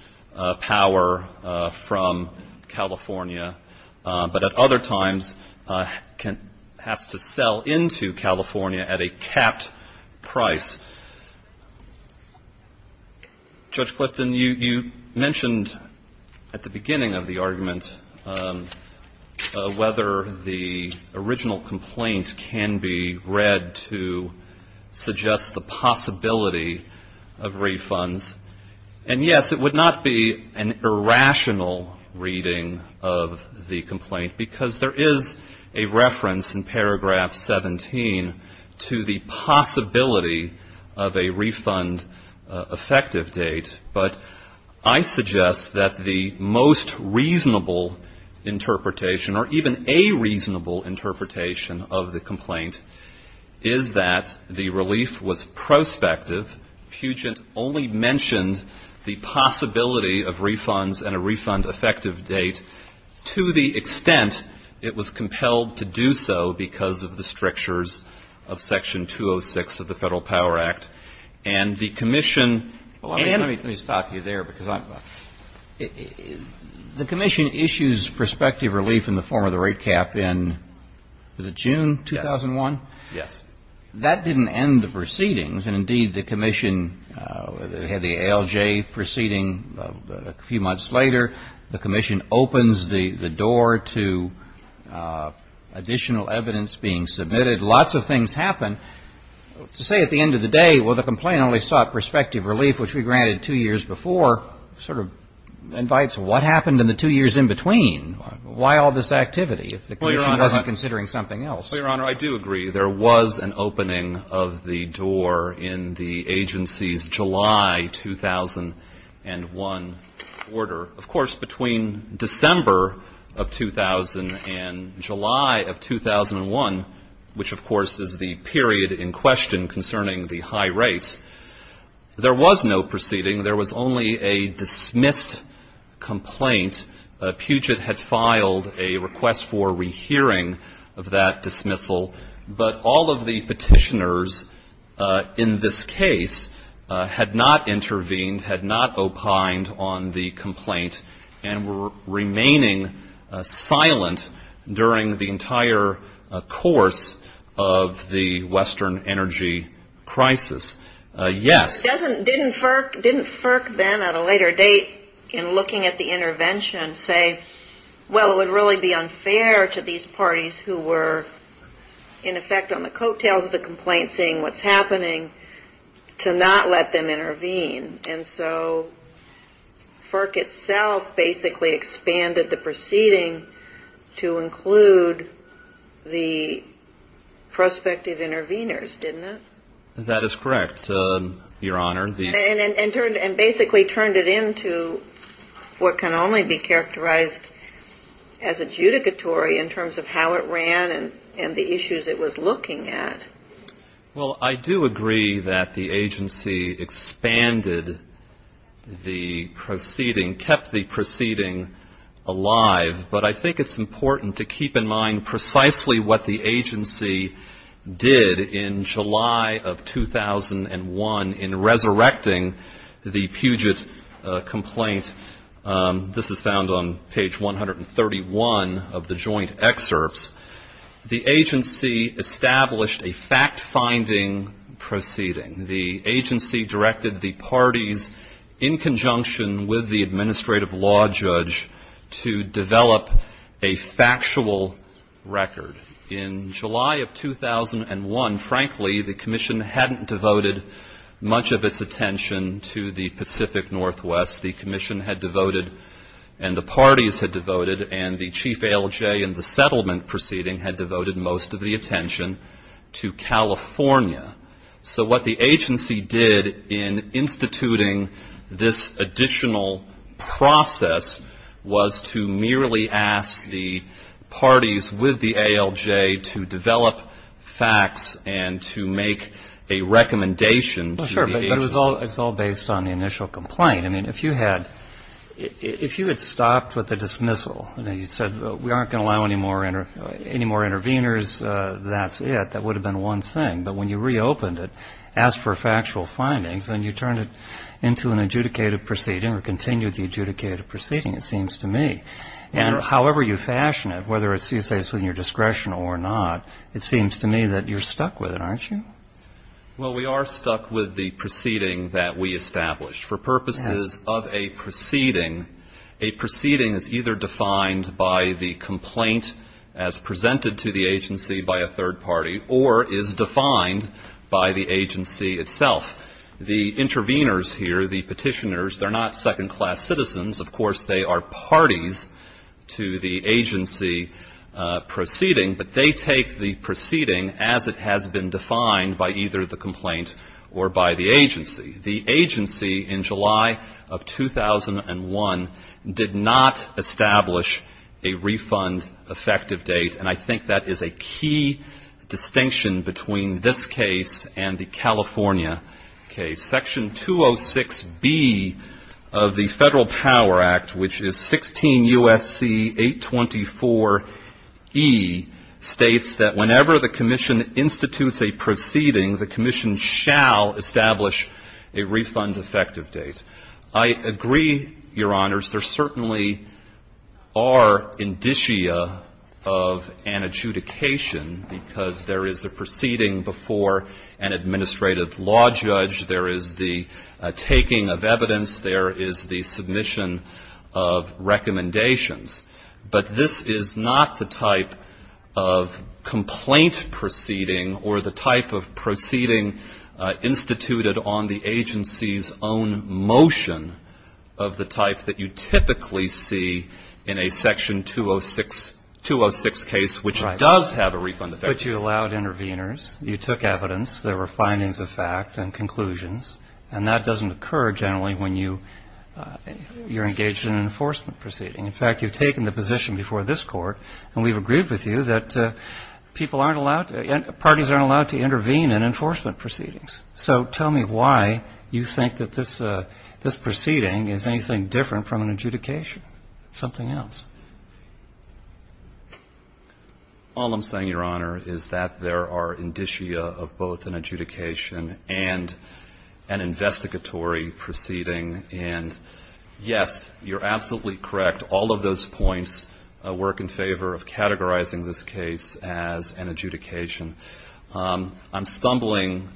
power from California, but at other times has to sell into California at a capped price. Judge Clifton, you mentioned at the beginning of the argument whether the original complaint can be read to suggest the possibility of refunds. And yes, it would not be an irrational reading of the complaint, because there is a reference in paragraph 17 to the possibility of a refund effective date, but I suggest that the most reasonable interpretation, or even a reasonable interpretation of the complaint, is that the relief was prospective. Puget only mentioned the possibility of refunds and a refund effective date to the extent it was compelled to do so because of the strictures of Section 206 of the Federal Power Act. Let me stop you there. The commission issues prospective relief in the form of the rate cap in June 2001. That didn't end the proceedings, and indeed the commission had the ALJ proceeding a few months later. The commission opens the door to additional evidence being submitted. Lots of things happen. To say at the end of the day, well, the complaint only sought prospective relief, which we granted two years before, sort of invites what happened in the two years in between. Why all this activity if the commission wasn't considering something else? Well, Your Honor, I do agree. There was an opening of the door in the agency's July 2001 order. Of course, between December of 2000 and July of 2001, which of course is the period in question concerning the high rates, there was no proceeding. There was only a dismissed complaint. Puget had filed a request for rehearing of that dismissal, but all of the petitioners in this case had not intervened, had not opined on the complaint, and were remaining silent during the entire course of the Western energy crisis. Yes. Didn't FERC then at a later date, in looking at the intervention, say, well, it would really be unfair to these parties who were in effect on the coattails of the complaint, seeing what's happening, to not let them intervene. And so FERC itself basically expanded the proceeding to include the prospective interveners, didn't it? That is correct, Your Honor. And basically turned it into what can only be characterized as adjudicatory in terms of how it ran and the issues it was looking at. Well, I do agree that the agency expanded the proceeding, kept the proceeding alive, but I think it's important to keep in mind precisely what the agency did in July of 2001 in resurrecting the Puget complaint. This is found on page 131 of the joint excerpts. The agency established a fact-finding proceeding. The agency directed the parties in conjunction with the administrative law judge to develop a factual record. In July of 2001, frankly, the commission hadn't devoted much of its attention to the Pacific Northwest. The commission had devoted, and the parties had devoted, and the chief ALJ in the settlement proceeding had devoted most of the attention to California. So what the agency did in instituting this additional process was to merely ask the parties with the ALJ to develop facts It's all based on the initial complaint. I mean, if you had stopped with the dismissal and then you said we aren't going to allow any more interveners, that's it. That would have been one thing. But when you reopened it, asked for factual findings, then you turned it into an adjudicated proceeding or continued the adjudicated proceeding, it seems to me. And however you fashion it, whether it's in your discretion or not, it seems to me that you're stuck with it, aren't you? Well, we are stuck with the proceeding that we established. For purposes of a proceeding, a proceeding is either defined by the complaint as presented to the agency by a third party or is defined by the agency itself. The interveners here, the petitioners, they're not second-class citizens. Of course, they are parties to the agency proceeding, but they take the proceeding as it has been defined by either the complaint or by the agency. The agency in July of 2001 did not establish a refund effective date, and I think that is a key distinction between this case and the California case. Section 206B of the Federal Power Act, which is 16 U.S.C. 824E, states that whenever the commission institutes a proceeding, the commission shall establish a refund effective date. I agree, Your Honors, there certainly are indicia of an adjudication because there is a proceeding before an administrative law judge. There is the taking of evidence. There is the submission of recommendations. But this is not the type of complaint proceeding or the type of proceeding instituted on the agency's own motion of the type that you typically see in a Section 206 case, which does have a refund effective date. But you allowed interveners. You took evidence. There were findings of fact and conclusions, and that doesn't occur generally when you're engaged in an enforcement proceeding. In fact, you've taken the position before this Court, and we've agreed with you that parties aren't allowed to intervene in enforcement proceedings. So tell me why you think that this proceeding is anything different from an adjudication. Something else. All I'm saying, Your Honor, is that there are indicia of both an adjudication and an investigatory proceeding. And, yes, you're absolutely correct. All of those points work in favor of categorizing this case as an adjudication. I'm stumbling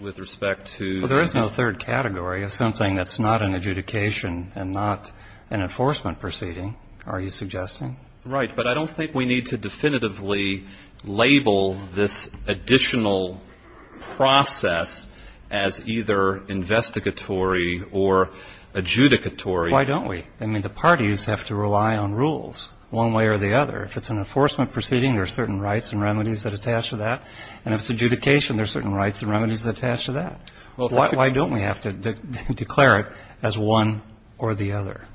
with respect to... Well, there is no third category. It's something that's not an adjudication and not an enforcement proceeding, are you suggesting? Right. But I don't think we need to definitively label this additional process as either investigatory or adjudicatory. Why don't we? I mean, the parties have to rely on rules one way or the other. If it's an enforcement proceeding, there are certain rights and remedies that attach to that. And if it's adjudication, there are certain rights and remedies that attach to that. Why don't we have to declare it as one or the other?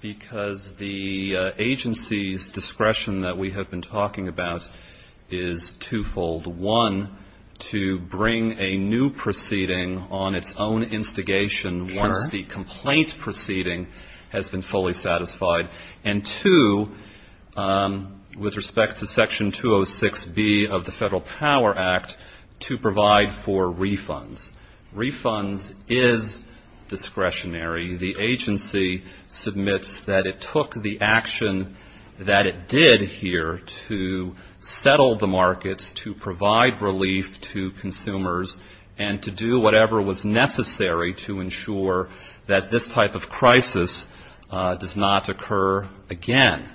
Because the agency's discretion that we have been talking about is twofold. One, to bring a new proceeding on its own instigation once the complaint proceeding has been fully satisfied. And two, with respect to Section 206B of the Federal Power Act, to provide for refunds. Refunds is discretionary. The agency submits that it took the action that it did here to settle the markets, to provide relief to consumers, and to do whatever was necessary to ensure that this type of crisis does not occur again.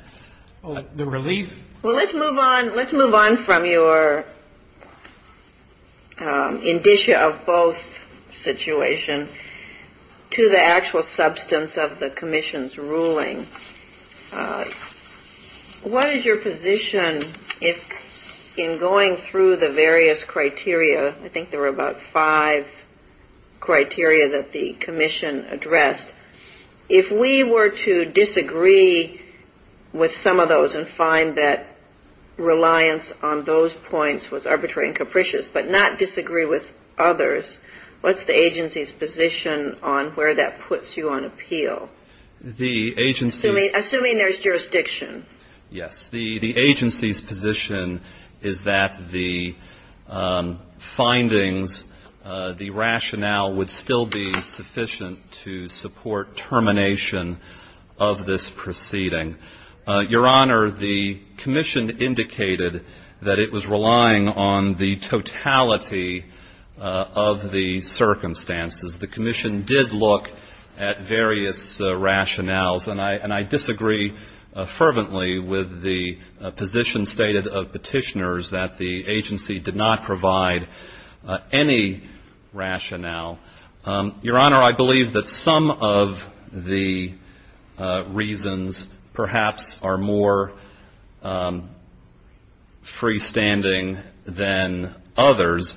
Well, let's move on from your indicia of both situations to the actual substance of the commission's ruling. What is your position in going through the various criteria? I think there were about five criteria that the commission addressed. If we were to disagree with some of those and find that reliance on those points was arbitrary and capricious, but not disagree with others, what's the agency's position on where that puts you on appeal? Assuming there's jurisdiction. Yes. The agency's position is that the findings, the rationale, would still be sufficient to support termination of this proceeding. Your Honor, the commission indicated that it was relying on the totality of the circumstances. The commission did look at various rationales, and I disagree fervently with the position stated of petitioners that the agency did not provide any rationale. Your Honor, I believe that some of the reasons perhaps are more freestanding than others.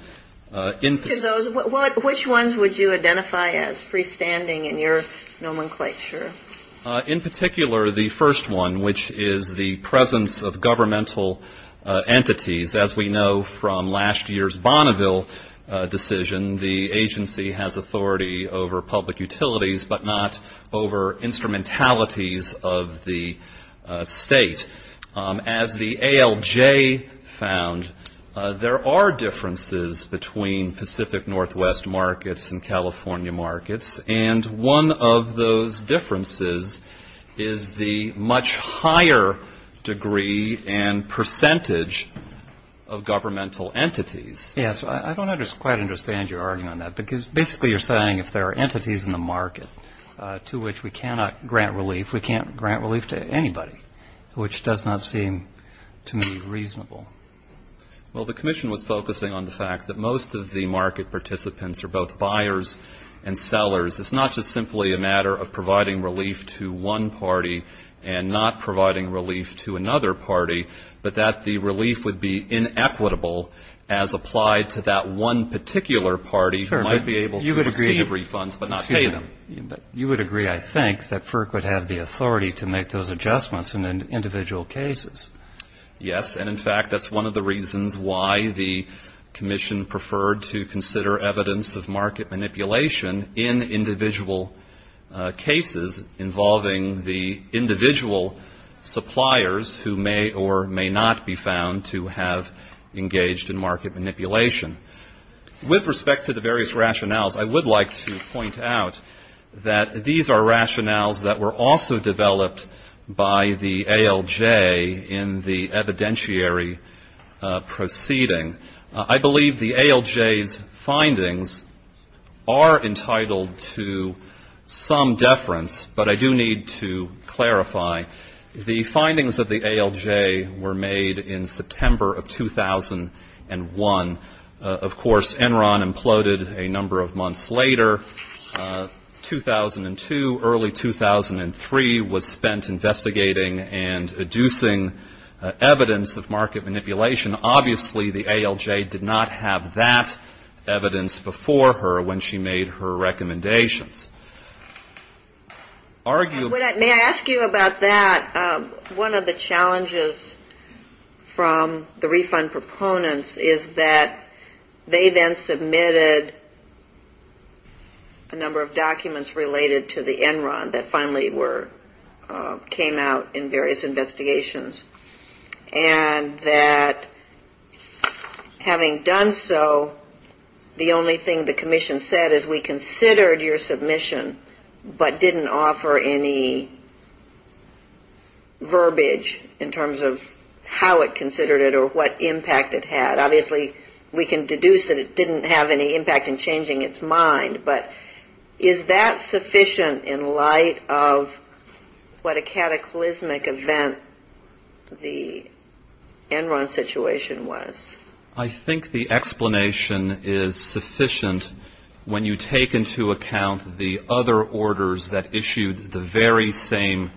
Which ones would you identify as freestanding in your nomenclature? In particular, the first one, which is the presence of governmental entities. As we know from last year's Bonneville decision, the agency has authority over public utilities, but not over instrumentalities of the state. As the ALJ found, there are differences between Pacific Northwest markets and California markets, and one of those differences is the much higher degree and percentage of governmental entities. Yes, I don't quite understand your argument on that, because basically you're saying if there are entities in the market to which we cannot grant relief, we can't grant relief to anybody, which does not seem to me reasonable. Well, the commission was focusing on the fact that most of the market participants are both buyers and sellers. It's not just simply a matter of providing relief to one party and not providing relief to another party, but that the relief would be inequitable as applied to that one particular party who might be able to receive refunds but not pay them. You would agree, I think, that FERC would have the authority to make those adjustments in individual cases. Yes, and in fact, that's one of the reasons why the commission preferred to consider evidence of market manipulation in individual cases involving the individual suppliers who may or may not be found to have engaged in market manipulation. With respect to the various rationales, I would like to point out that these are rationales that were also developed by the ALJ in the evidentiary proceeding. I believe the ALJ's findings are entitled to some deference, but I do need to clarify. The findings of the ALJ were made in September of 2001. Of course, Enron imploded a number of months later. 2002, early 2003 was spent investigating and deducing evidence of market manipulation. Obviously, the ALJ did not have that evidence before her when she made her recommendations. May I ask you about that? One of the challenges from the refund proponents is that they then submitted a number of documents related to the Enron that finally came out in various investigations, and that having done so, the only thing the commission said is we considered your submission, but didn't offer any verbiage in terms of how it considered it or what impact it had. Obviously, we can deduce that it didn't have any impact in changing its mind, but is that sufficient in light of what a cataclysmic event the Enron situation was? I think the explanation is sufficient when you take into account the other orders that issued the very same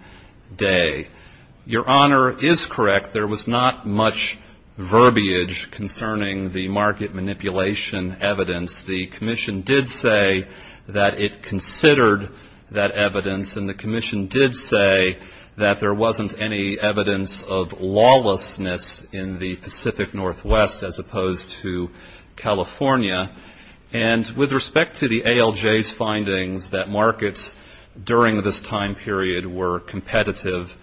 day. Your Honor is correct. There was not much verbiage concerning the market manipulation evidence. The commission did say that it considered that evidence, and the commission did say that there wasn't any evidence of lawlessness in the Pacific Northwest as opposed to California, and with respect to the ALJ's findings that markets during this time period were competitive,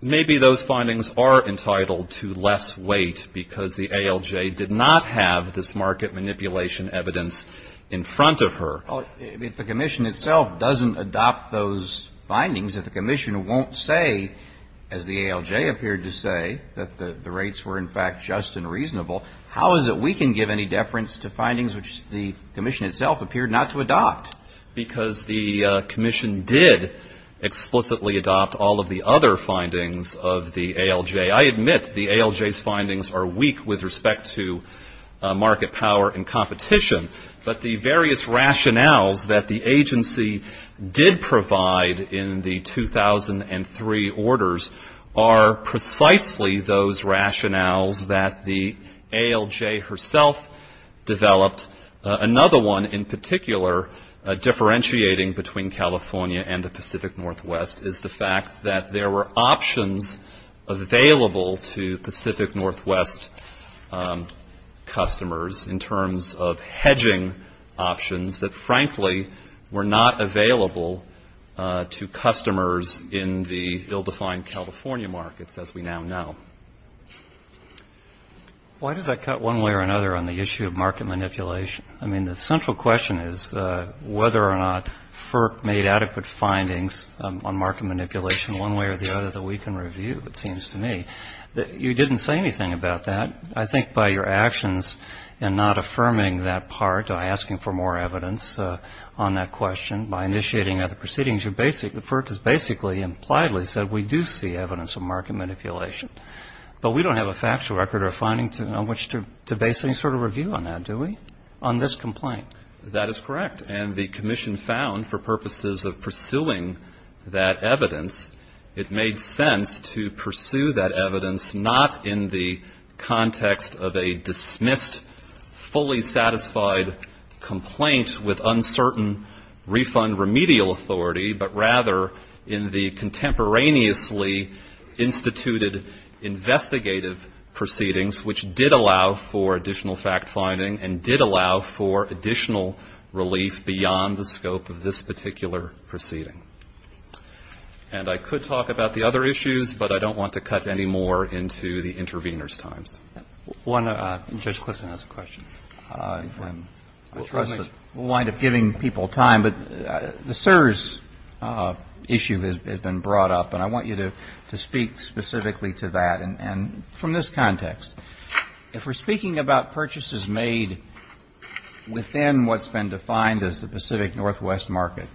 maybe those findings are entitled to less weight because the ALJ did not have this market manipulation evidence in front of her. Well, if the commission itself doesn't adopt those findings, if the commission won't say, as the ALJ appeared to say, that the rates were in fact just and reasonable, how is it we can give any deference to findings which the commission itself appeared not to adopt? Because the commission did explicitly adopt all of the other findings of the ALJ. I admit the ALJ's findings are weak with respect to market power and competition, but the various rationales that the agency did provide in the 2003 orders are precisely those rationales that the ALJ herself developed. Another one in particular, differentiating between California and the Pacific Northwest, is the fact that there were options available to Pacific Northwest customers in terms of hedging options that, frankly, were not available to customers in the ill-defined California markets as we now know. Why did I cut one way or another on the issue of market manipulation? I mean, the central question is whether or not FERC made adequate findings on market manipulation one way or the other that we can review, it seems to me. You didn't say anything about that. I think by your actions in not affirming that part, asking for more evidence on that question, by initiating other proceedings, FERC has basically impliedly said we do see evidence of market manipulation. But we don't have a factual record or finding on which to base any sort of review on that, do we, on this complaint? That is correct. And the Commission found for purposes of pursuing that evidence, it made sense to pursue that evidence not in the context of a dismissed, fully satisfied complaint with uncertain refund remedial authority, but rather in the contemporaneously instituted investigative proceedings which did allow for additional fact-finding and did allow for additional relief beyond the scope of this particular proceeding. And I could talk about the other issues, but I don't want to cut any more into the intervener's time. Judge Clifton has a question. We'll wind up giving people time, but the CSRS issue has been brought up, and I want you to speak specifically to that. And from this context, if we're speaking about purchases made within what's been defined as the Pacific Northwest market,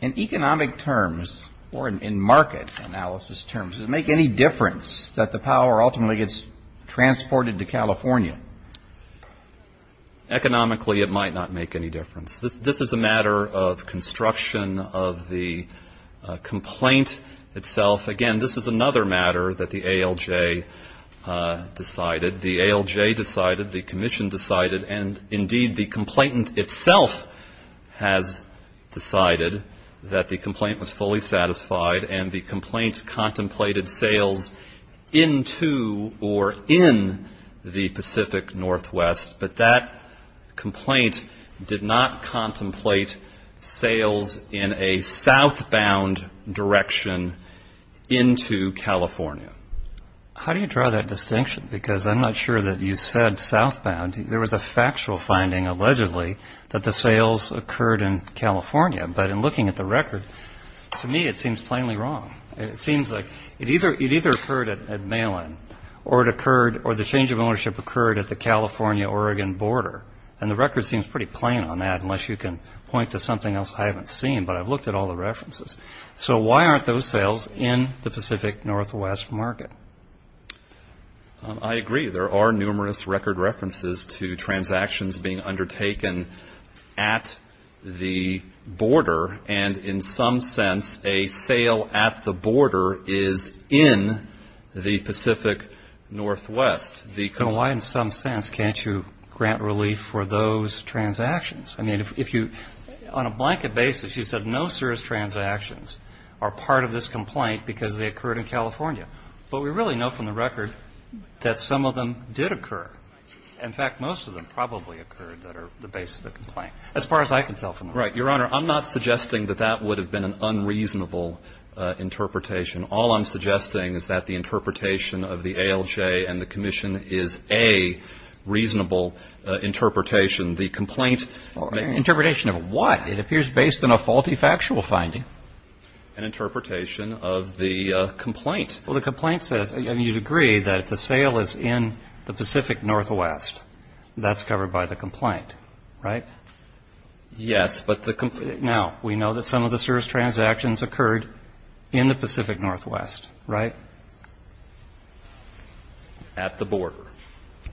in economic terms or in market analysis terms, does it make any difference that the power ultimately gets transported to California? Economically, it might not make any difference. This is a matter of construction of the complaint itself. Again, this is another matter that the ALJ decided, the ALJ decided, the Commission decided, and indeed the complainant itself has decided that the complaint was fully satisfied and the complaint contemplated sales into or in the Pacific Northwest, but that complaint did not contemplate sales in a southbound direction into California. How do you draw that distinction? Because I'm not sure that you said southbound. There was a factual finding allegedly that the sales occurred in California, but in looking at the record, to me it seems plainly wrong. It seems like it either occurred at Malin or it occurred or the change of ownership occurred at the California-Oregon border, and the record seems pretty plain on that unless you can point to something else I haven't seen, but I've looked at all the references. So why aren't those sales in the Pacific Northwest market? I agree. There are numerous record references to transactions being undertaken at the border, and in some sense a sale at the border is in the Pacific Northwest. So why in some sense can't you grant relief for those transactions? I mean, if you, on a blanket basis, you said no serious transactions are part of this complaint because they occurred in California, but we really know from the record that some of them did occur. In fact, most of them probably occurred that are the basis of the complaint as far as I can tell from the record. Right. Your Honor, I'm not suggesting that that would have been an unreasonable interpretation. All I'm suggesting is that the interpretation of the ALJ and the commission is a reasonable interpretation. The complaint or interpretation of what? It appears based on a faulty factual finding. An interpretation of the complaint. Well, the complaint says, and you'd agree, that the sale is in the Pacific Northwest. That's covered by the complaint, right? Yes. Now, we know that some of the serious transactions occurred in the Pacific Northwest, right? At the border.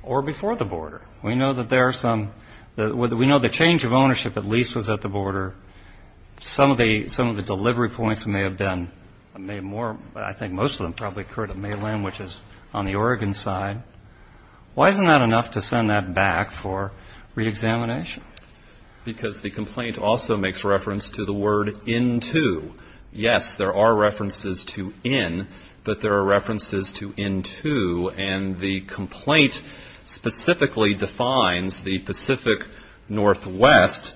Or before the border. We know that there are some – we know the change of ownership of lease was at the border. Some of the delivery points may have been made more, but I think most of them probably occurred at mainland, which is on the Oregon side. Why isn't that enough to send that back for reexamination? Because the complaint also makes reference to the word into. Yes, there are references to in, but there are references to into, and the complaint specifically defines the Pacific Northwest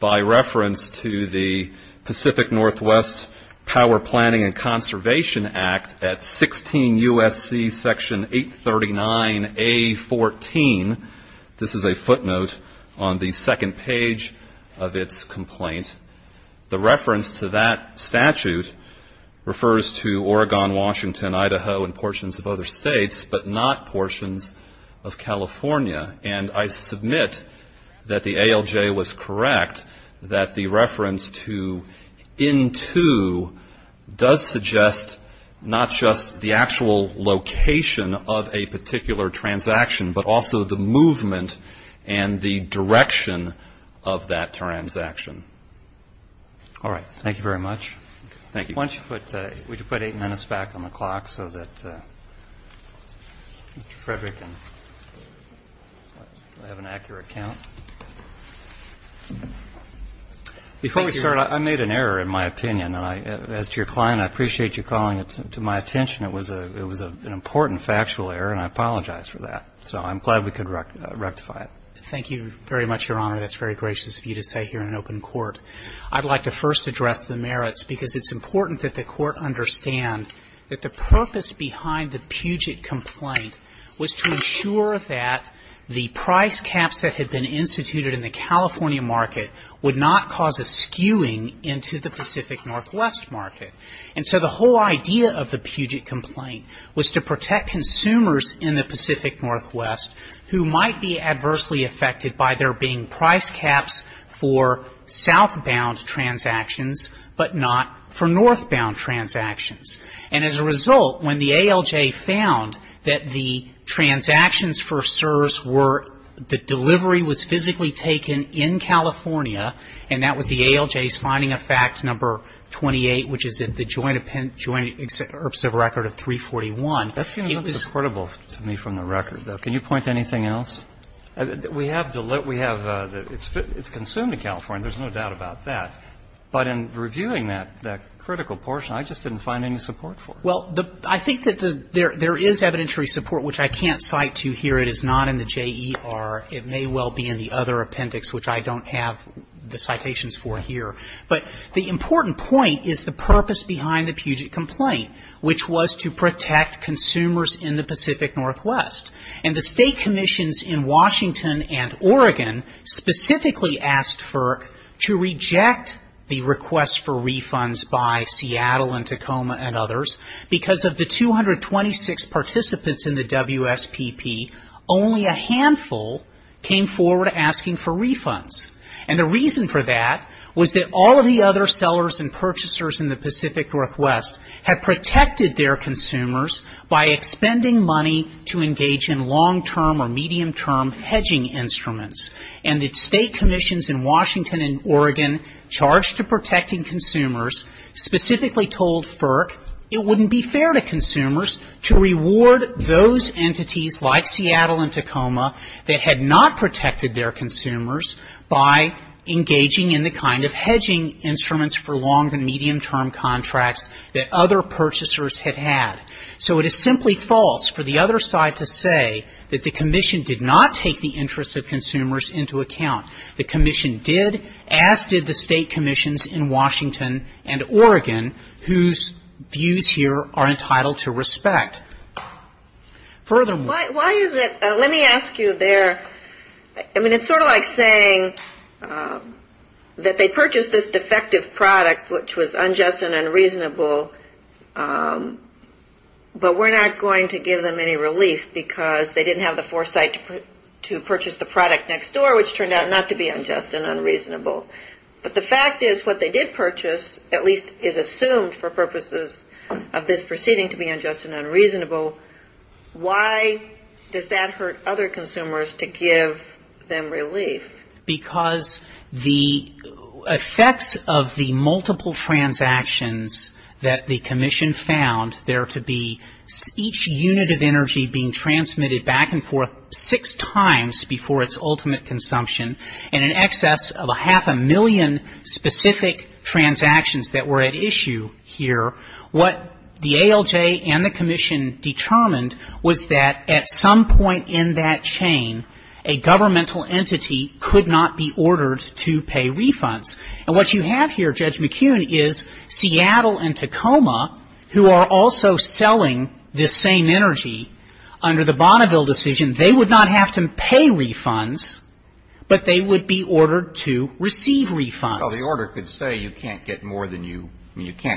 by reference to the Pacific Northwest Power Planning and Conservation Act at 16 U.S.C. Section 839A14. This is a footnote on the second page of its complaint. The reference to that statute refers to Oregon, Washington, Idaho, and portions of other states, but not portions of California, and I submit that the ALJ was correct that the reference to into does suggest not just the actual location of a particular transaction, but also the movement and the direction of that transaction. All right. Thank you very much. Thank you. Why don't you put – would you put eight minutes back on the clock so that Mr. Frederick can have an accurate count? Before we start, I made an error in my opinion, and as your client, I appreciate you calling it to my attention. It was an important factual error, and I apologize for that. So I'm glad we could rectify it. Thank you very much, Your Honor. That's very gracious of you to say here in an open court. I'd like to first address the merits because it's important that the court understand that the purpose behind the Puget complaint was to ensure that the price caps that had been instituted in the California market would not cause a skewing into the Pacific Northwest market. And so the whole idea of the Puget complaint was to protect consumers in the Pacific Northwest who might be adversely affected by there being price caps for southbound transactions, but not for northbound transactions. And as a result, when the ALJ found that the transactions for CSRS were – the delivery was physically taken in California, and that was the ALJ's finding of facts number 28, which is the joint record of 341. That seems a little discreditable to me from the record, though. Can you point to anything else? We have the – it's consumed in California. There's no doubt about that. But in reviewing that critical portion, I just didn't find any support for it. Well, I think that there is evidentiary support, which I can't cite to you here. It is not in the JER. It may well be in the other appendix, which I don't have the citations for here. But the important point is the purpose behind the Puget complaint, which was to protect consumers in the Pacific Northwest. And the state commissions in Washington and Oregon specifically asked for – to reject the request for refunds by Seattle and Tacoma and others Because of the 226 participants in the WSPP, only a handful came forward asking for refunds. And the reason for that was that all of the other sellers and purchasers in the Pacific Northwest had protected their consumers by expending money to engage in long-term or medium-term hedging instruments. And the state commissions in Washington and Oregon charged to protecting consumers specifically told FERC it wouldn't be fair to consumers to reward those entities like Seattle and Tacoma that had not protected their consumers by engaging in the kind of hedging instruments for long- and medium-term contracts that other purchasers had had. So it is simply false for the other side to say that the commission did not take the interest of consumers into account. The commission did, as did the state commissions in Washington and Oregon, whose views here are entitled to respect. Let me ask you there, I mean it's sort of like saying that they purchased this defective product, which was unjust and unreasonable, but we're not going to give them any relief because they didn't have the foresight to purchase the product next door, which turned out not to be unjust and unreasonable. But the fact is what they did purchase at least is assumed for purposes of this proceeding to be unjust and unreasonable. Why does that hurt other consumers to give them relief? Because the effect of the multiple transactions that the commission found there to be each unit of energy being transmitted back and forth six times before its ultimate consumption and in excess of a half a million specific transactions that were at issue here, what the ALJ and the commission determined was that at some point in that chain, a governmental entity could not be ordered to pay refunds. And what you have here, Judge McKeown, is Seattle and Tacoma, who are also selling this same energy under the Bonneville decision, they would not have to pay refunds, but they would be ordered to receive refunds. Well, the order could say you can't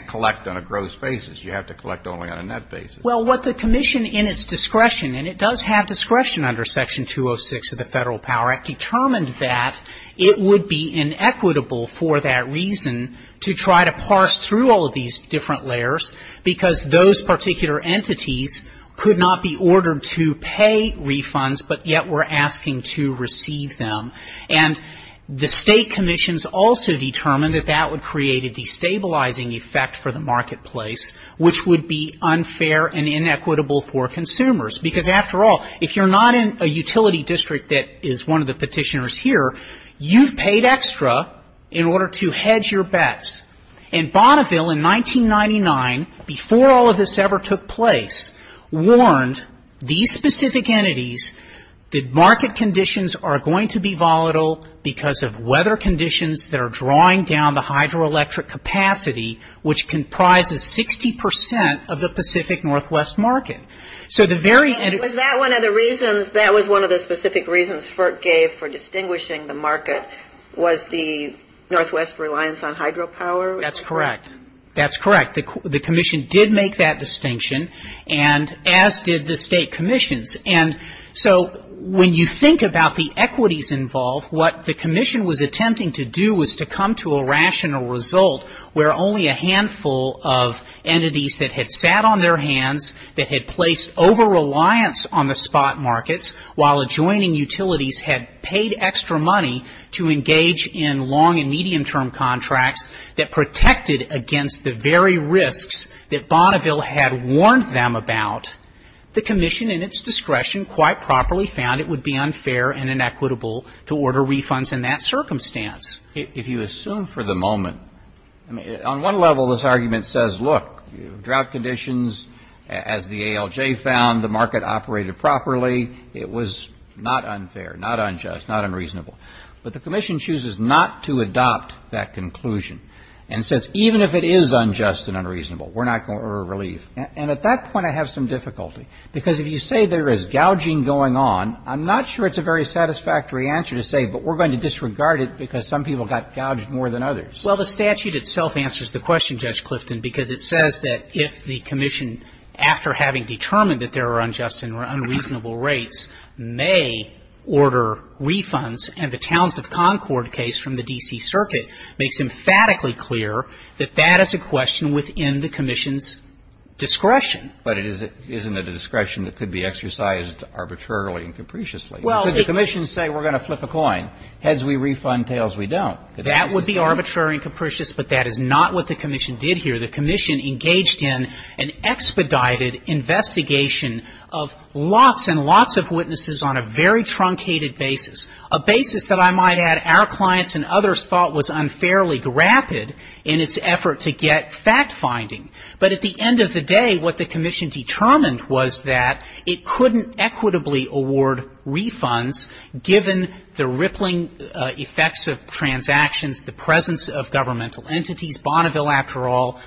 collect on a gross basis. You have to collect only on a net basis. Well, what the commission in its discretion, and it does have discretion under Section 206 of the Federal Power Act, determined that it would be inequitable for that reason to try to parse through all of these different layers because those particular entities could not be ordered to pay refunds, but yet were asking to receive them. And the state commissions also determined that that would create a destabilizing effect for the marketplace, which would be unfair and inequitable for consumers. Because after all, if you're not in a utility district that is one of the petitioners here, you've paid extra in order to hedge your bets. And Bonneville in 1999, before all of this ever took place, warned these specific entities that market conditions are going to be volatile because of weather conditions that are drawing down the hydroelectric capacity, which comprises 60% of the Pacific Northwest market. Was that one of the reasons, that was one of the specific reasons FERC gave for distinguishing the market? Was the Northwest reliance on hydropower? That's correct. That's correct. The commission did make that distinction, and as did the state commissions. And so when you think about the equities involved, what the commission was attempting to do was to come to a rational result where only a handful of entities that had sat on their hands, that had placed over-reliance on the spot markets, while adjoining utilities had paid extra money to engage in long and medium-term contracts that protected against the very risks that Bonneville had warned them about. The commission, in its discretion, quite properly found it would be unfair and inequitable to order refunds in that circumstance. If you assume for the moment, on one level this argument says, look, drought conditions, as the ALJ found, the market operated properly, it was not unfair, not unjust, not unreasonable. But the commission chooses not to adopt that conclusion, and says even if it is unjust and unreasonable, we're not going to order relief. And at that point I have some difficulty, because if you say there is gouging going on, I'm not sure it's a very satisfactory answer to say, but we're going to disregard it because some people got gouged more than others. Well, the statute itself answers the question, Judge Clifton, because it says that if the commission, after having determined that there were unjust and unreasonable rates, may order refunds, and the Towns of Concord case from the D.C. Circuit makes emphatically clear that that is a question within the commission's discretion. But it isn't a discretion that could be exercised arbitrarily and capriciously. If the commission says we're going to flip a coin, heads we refund, tails we don't. That would be arbitrary and capricious, but that is not what the commission did here. The commission engaged in an expedited investigation of lots and lots of witnesses on a very truncated basis, a basis that I might add our clients and others thought was unfairly grafted in its effort to get fact-finding. But at the end of the day, what the commission determined was that it couldn't equitably award refunds given the rippling effects of transactions, the presence of governmental entities. Bonneville, after all,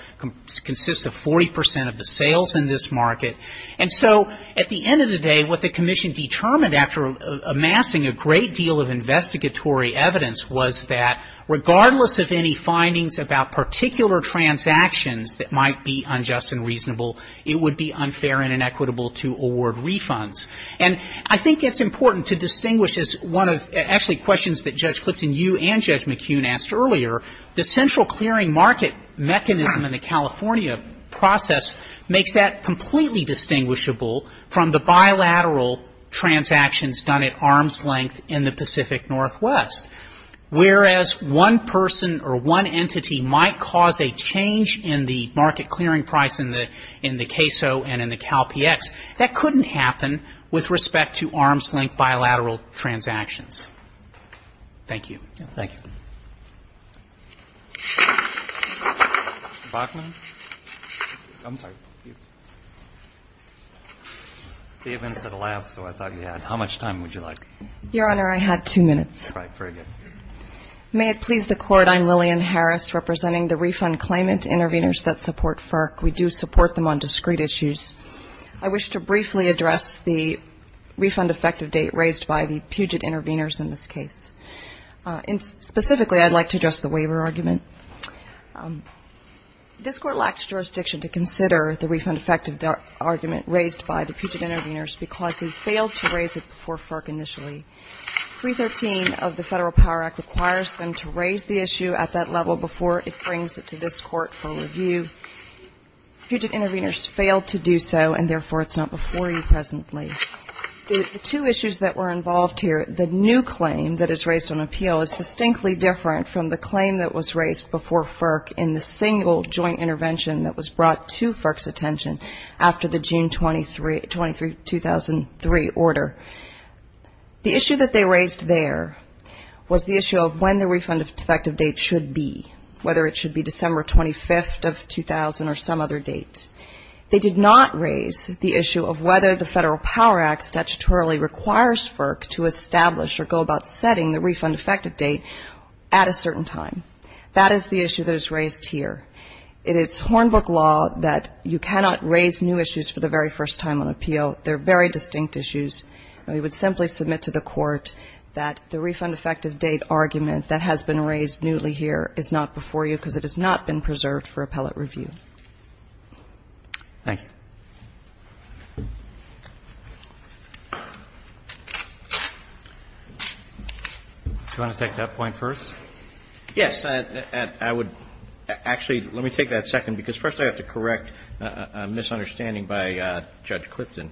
consists of 40% of the sales in this market. And so at the end of the day, what the commission determined after amassing a great deal of investigatory evidence was that regardless of any findings about particular transactions that might be unjust and reasonable, it would be unfair and inequitable to award refunds. And I think it's important to distinguish, actually questions that Judge Clifton, you and Judge McKeon asked earlier, the central clearing market mechanism in the California process makes that completely distinguishable from the bilateral transactions done at arm's length in the Pacific Northwest. Whereas one person or one entity might cause a change in the market clearing price in the CAISO and in the CalPX, that couldn't happen with respect to arm's length bilateral transactions. Thank you. Thank you. Mr. Bachman? I'm sorry. Even for the last one, I thought you had... How much time would you like? Your Honor, I have two minutes. All right, very good. May it please the Court, I'm Lillian Harris, representing the refund claimant intervenors that support FERC. We do support them on discrete issues. I wish to briefly address the refund effective date raised by the Puget intervenors in this case. And specifically, I'd like to address the waiver argument. This Court lacks jurisdiction to consider the refund effective argument raised by the Puget intervenors because we failed to raise it before FERC initially. 313 of the Federal Power Act requires them to raise the issue at that level before it brings it to this Court for review. Puget intervenors failed to do so and therefore it's not before you presently. The two issues that were involved here, the new claim that is raised on appeal is distinctly different from the claim that was raised before FERC in the single joint intervention that was brought to FERC's attention after the June 23, 2003 order. The issue that they raised there was the issue of when the refund effective date should be, whether it should be December 25th of 2000 or some other date. They did not raise the issue of whether the Federal Power Act statutorily requires FERC to establish or go about setting the refund effective date at a certain time. That is the issue that is raised here. It is Hornbook law that you cannot raise new issues for the very first time on appeal. They're very distinct issues. We would simply submit to the Court that the refund effective date argument that has been raised newly here is not before you because it has not been preserved for appellate review. Thank you. Do you want to take that point first? Yes, I would. Actually, let me take that second because first I have to correct a misunderstanding by Judge Clifton.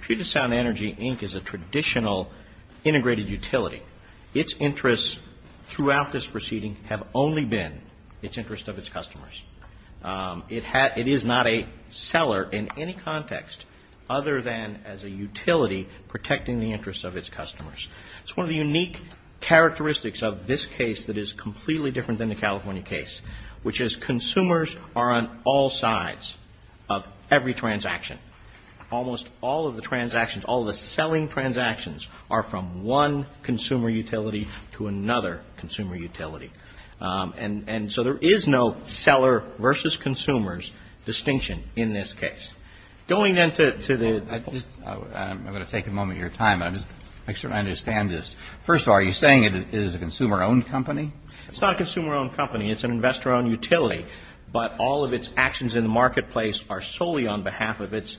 Treat of Sound Energy, Inc. is a traditional integrated utility. Its interests throughout this proceeding have only been its interest of its customers. It is not a seller in any context other than as a utility protecting the interests of its customers. It's one of the unique characteristics of this case that is completely different than the California case, which is consumers are on all sides of every transaction. Almost all of the transactions, all of the selling transactions, are from one consumer utility to another consumer utility. And so there is no seller versus consumers distinction in this case. I'm going to take a moment of your time. I just want to make sure I understand this. First of all, are you saying it is a consumer-owned company? It's not a consumer-owned company. It's an investor-owned utility. But all of its actions in the marketplace are solely on behalf of its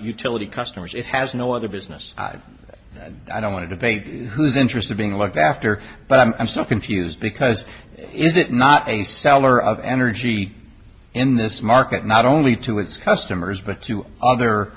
utility customers. It has no other business. I don't want to debate whose interests are being looked after, but I'm still confused because is it not a seller of energy in this market, not only to its customers but to other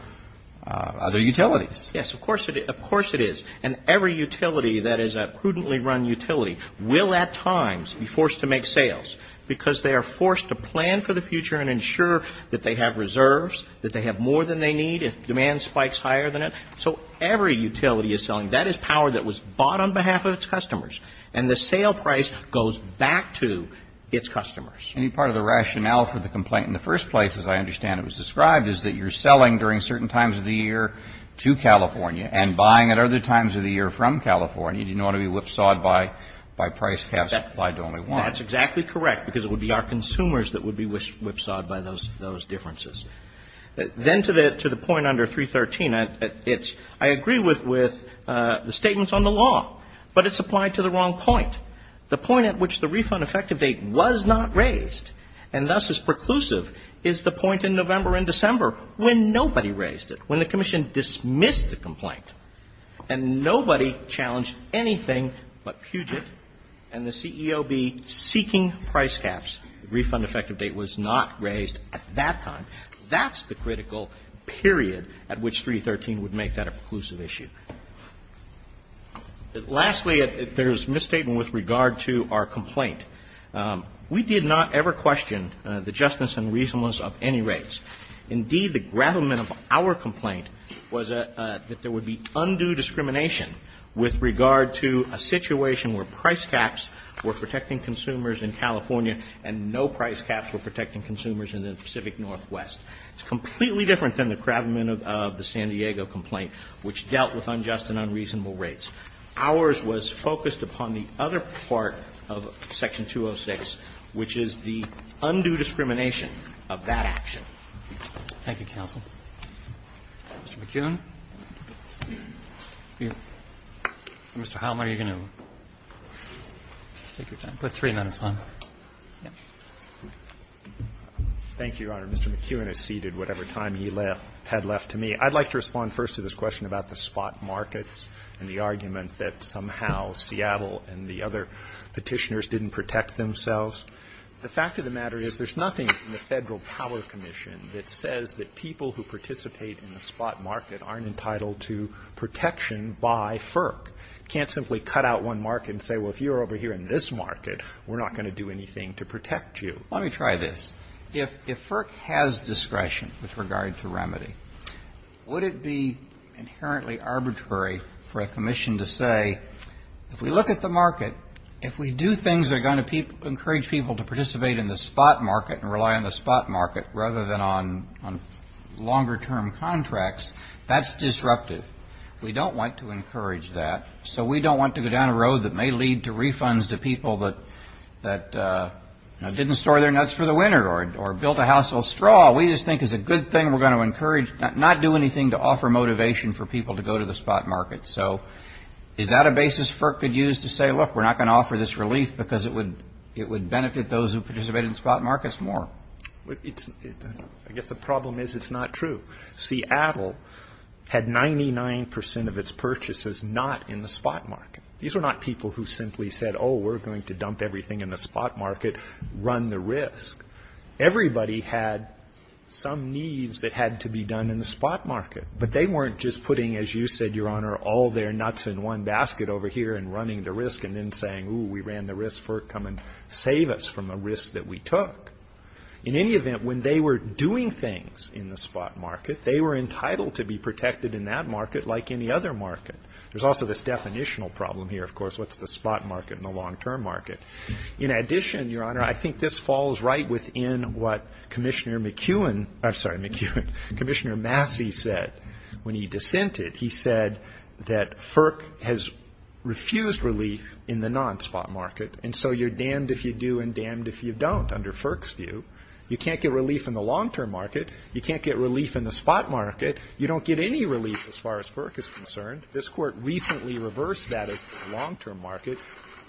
utilities? Yes, of course it is. And every utility that is a prudently run utility will at times be forced to make sales because they are forced to plan for the future and ensure that they have reserves, that they have more than they need if demand spikes higher than it. So every utility is selling. That is power that was bought on behalf of its customers. And the sale price goes back to its customers. Any part of the rationale for the complaint in the first place, as I understand it was described, is that you're selling during certain times of the year to California and buying at other times of the year from California. You didn't want to be whipsawed by price caps applied to only one. That's exactly correct because it would be our consumers that would be whipsawed by those differences. Then to the point under 313, I agree with the statements on the law, but it's applied to the wrong point. The point at which the refund effective date was not raised and thus is preclusive is the point in November and December when nobody raised it, when the commission dismissed the complaint and nobody challenged anything but Puget and the CEOB seeking price caps. The refund effective date was not raised at that time. That's the critical period at which 313 would make that a preclusive issue. Lastly, there's misstatement with regard to our complaint. We did not ever question the justice and reasonableness of any rates. Indeed, the gravamen of our complaint was that there would be undue discrimination with regard to a situation where price caps were protecting consumers in California and no price caps were protecting consumers in the Pacific Northwest. It's completely different than the gravamen of the San Diego complaint which dealt with unjust and unreasonable rates. Ours was focused upon the other part of Section 206, which is the undue discrimination of that action. Roberts. Thank you, counsel. Mr. McKeown. Mr. Heilman, are you going to take your time? I've got 300 on me. Thank you, Your Honor. Mr. McKeown has ceded whatever time he had left to me. I'd like to respond first to this question about the spot markets and the argument that somehow Seattle and the other petitioners didn't protect themselves. The fact of the matter is there's nothing in the Federal Power Commission that says that people who participate in the spot market aren't entitled to protection by FERC. You can't simply cut out one market and say, well, if you're over here in this market, we're not going to do anything to protect you. Let me try this. If FERC has discretion with regard to remedy, would it be inherently arbitrary for a commission to say, if we look at the market, if we do things that are going to encourage people to participate in the spot market and rely on the spot market rather than on longer-term contracts, that's disruptive. We don't want to encourage that, so we don't want to go down a road that may lead to refunds to people that didn't store their nuts for the winter or built a household straw. We just think it's a good thing we're going to encourage, not do anything to offer motivation for people to go to the spot market. So is that a basis FERC could use to say, look, we're not going to offer this relief because it would benefit those who participate in the spot markets more. I guess the problem is it's not true. Seattle had 99 percent of its purchases not in the spot market. These were not people who simply said, oh, we're going to dump everything in the spot market, run the risk. Everybody had some needs that had to be done in the spot market, but they weren't just putting, as you said, Your Honor, all their nuts in one basket over here and running the risk and then saying, ooh, we ran the risk, FERC, come and save us from the risk that we took. In any event, when they were doing things in the spot market, they were entitled to be protected in that market like any other market. There's also this definitional problem here, of course, what's the spot market and the long-term market. In addition, Your Honor, I think this falls right within what Commissioner McEwen, I'm sorry, Commissioner Massey said when he dissented. He said that FERC has refused relief in the non-spot market, and so you're damned if you do and damned if you don't under FERC's view. You can't get relief in the long-term market. You can't get relief in the spot market. You don't get any relief as far as FERC is concerned. This Court recently reversed that as the long-term market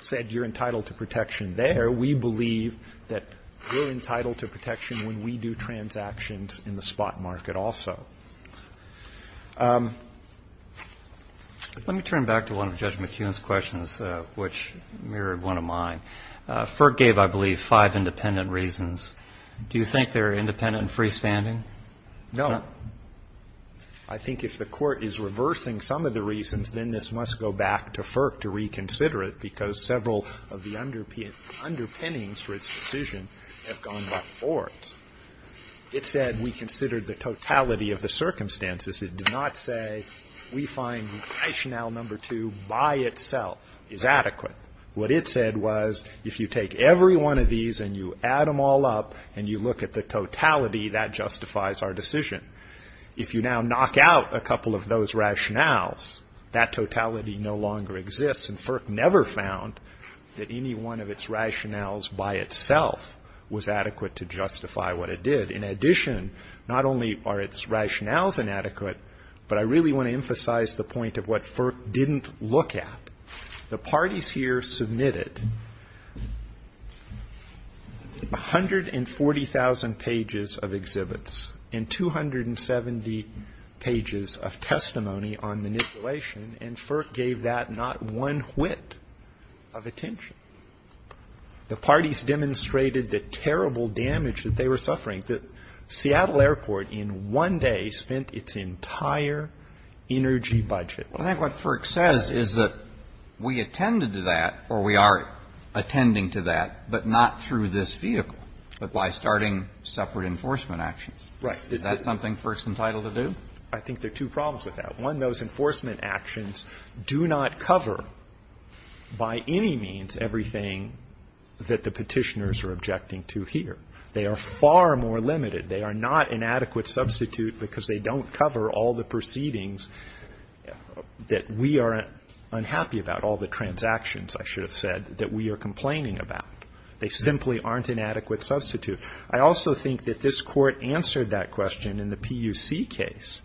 said you're entitled to protection there. We believe that we're entitled to protection when we do transactions in the spot market also. Let me turn back to one of Judge McEwen's questions, which mirrored one of mine. FERC gave, I believe, five independent reasons. Do you think they're independent and freestanding? No. I think if the Court is reversing some of the reasons, then this must go back to FERC to reconsider it because several of the underpinnings for its decision have gone before us. It said we considered the totality of the circumstances. It did not say we find rationale number two by itself is adequate. What it said was if you take every one of these and you add them all up and you look at the totality, that justifies our decision. If you now knock out a couple of those rationales, that totality no longer exists, and FERC never found that any one of its rationales by itself was adequate to justify what it did. In addition, not only are its rationales inadequate, but I really want to emphasize the point of what FERC didn't look at. The parties here submitted 140,000 pages of exhibits and 270 pages of testimony on manipulation, and FERC gave that not one whit of attention. The parties demonstrated the terrible damage that they were suffering, that Seattle Airport in one day spent its entire energy budget. I think what FERC says is that we attended to that, or we are attending to that, but not through this vehicle, but by starting separate enforcement actions. Is that something FERC's entitled to do? I think there are two problems with that. One, those enforcement actions do not cover by any means everything that the petitioners are objecting to here. They are far more limited. They are not an adequate substitute because they don't cover all the proceedings that we are unhappy about, all the transactions, I should have said, that we are complaining about. They simply aren't an adequate substitute. I also think that this court answered that question in the PUC case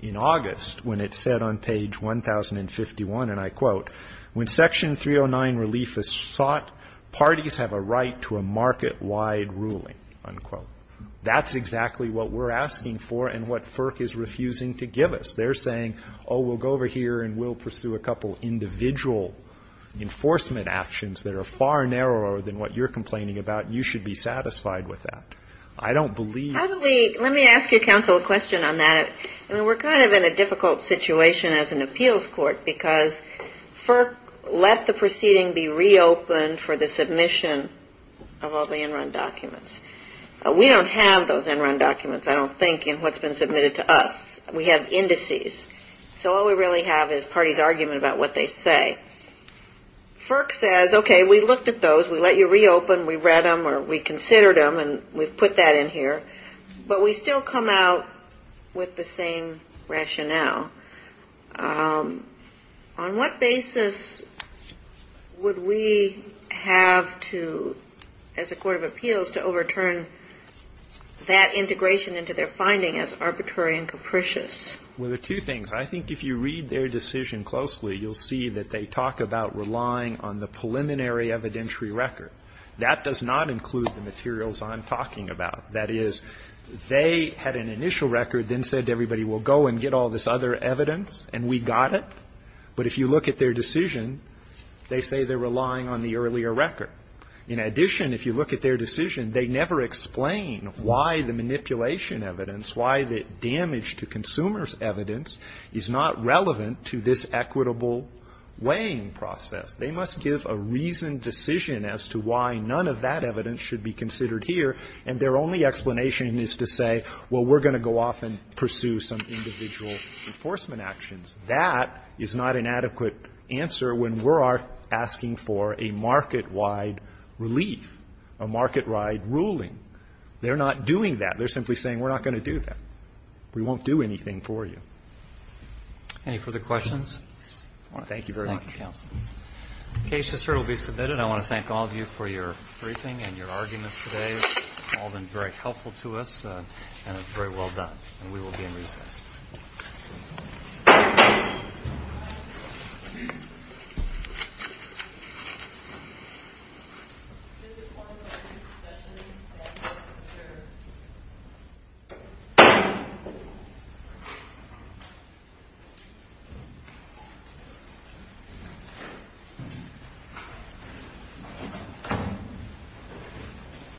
in August when it said on page 1051, and I quote, When Section 309 relief is sought, parties have a right to a market-wide ruling, unquote. That's exactly what we're asking for and what FERC is refusing to give us. They're saying, oh, we'll go over here and we'll pursue a couple individual enforcement actions that are far narrower than what you're complaining about, and you should be satisfied with that. I don't believe... Let me ask you, counsel, a question on that. We're kind of in a difficult situation as an appeals court because FERC let the proceeding be reopened for the submission of all the in-run documents. We don't have those in-run documents, I don't think, in what's been submitted to us. We have indices. So all we really have is parties' argument about what they say. FERC says, okay, we looked at those. We let you reopen. We read them or we considered them, and we've put that in here. But we still come out with the same rationale. On what basis would we have to, as a court of appeals, to overturn that integration into their finding as arbitrary and capricious? Well, there are two things. I think if you read their decision closely, you'll see that they talk about relying on the preliminary evidentiary record. That does not include the materials I'm talking about. That is, they had an initial record, then said to everybody, well, go and get all this other evidence, and we got it. But if you look at their decision, they say they're relying on the earlier record. In addition, if you look at their decision, they never explain why the manipulation evidence, why the damage to consumer's evidence is not relevant to this equitable weighing process. They must give a reasoned decision as to why none of that evidence should be considered here, and their only explanation is to say, well, we're going to go off and pursue some individual enforcement actions. That is not an adequate answer when we're asking for a market-wide relief, a market-wide ruling. They're not doing that. They're simply saying we're not going to do that. We won't do anything for you. Thank you very much. Thank you. The case is certainly submitted. I want to thank all of you for your briefing and your arguments today. All have been very helpful to us, and it's very well done. And we will be in review. Thank you.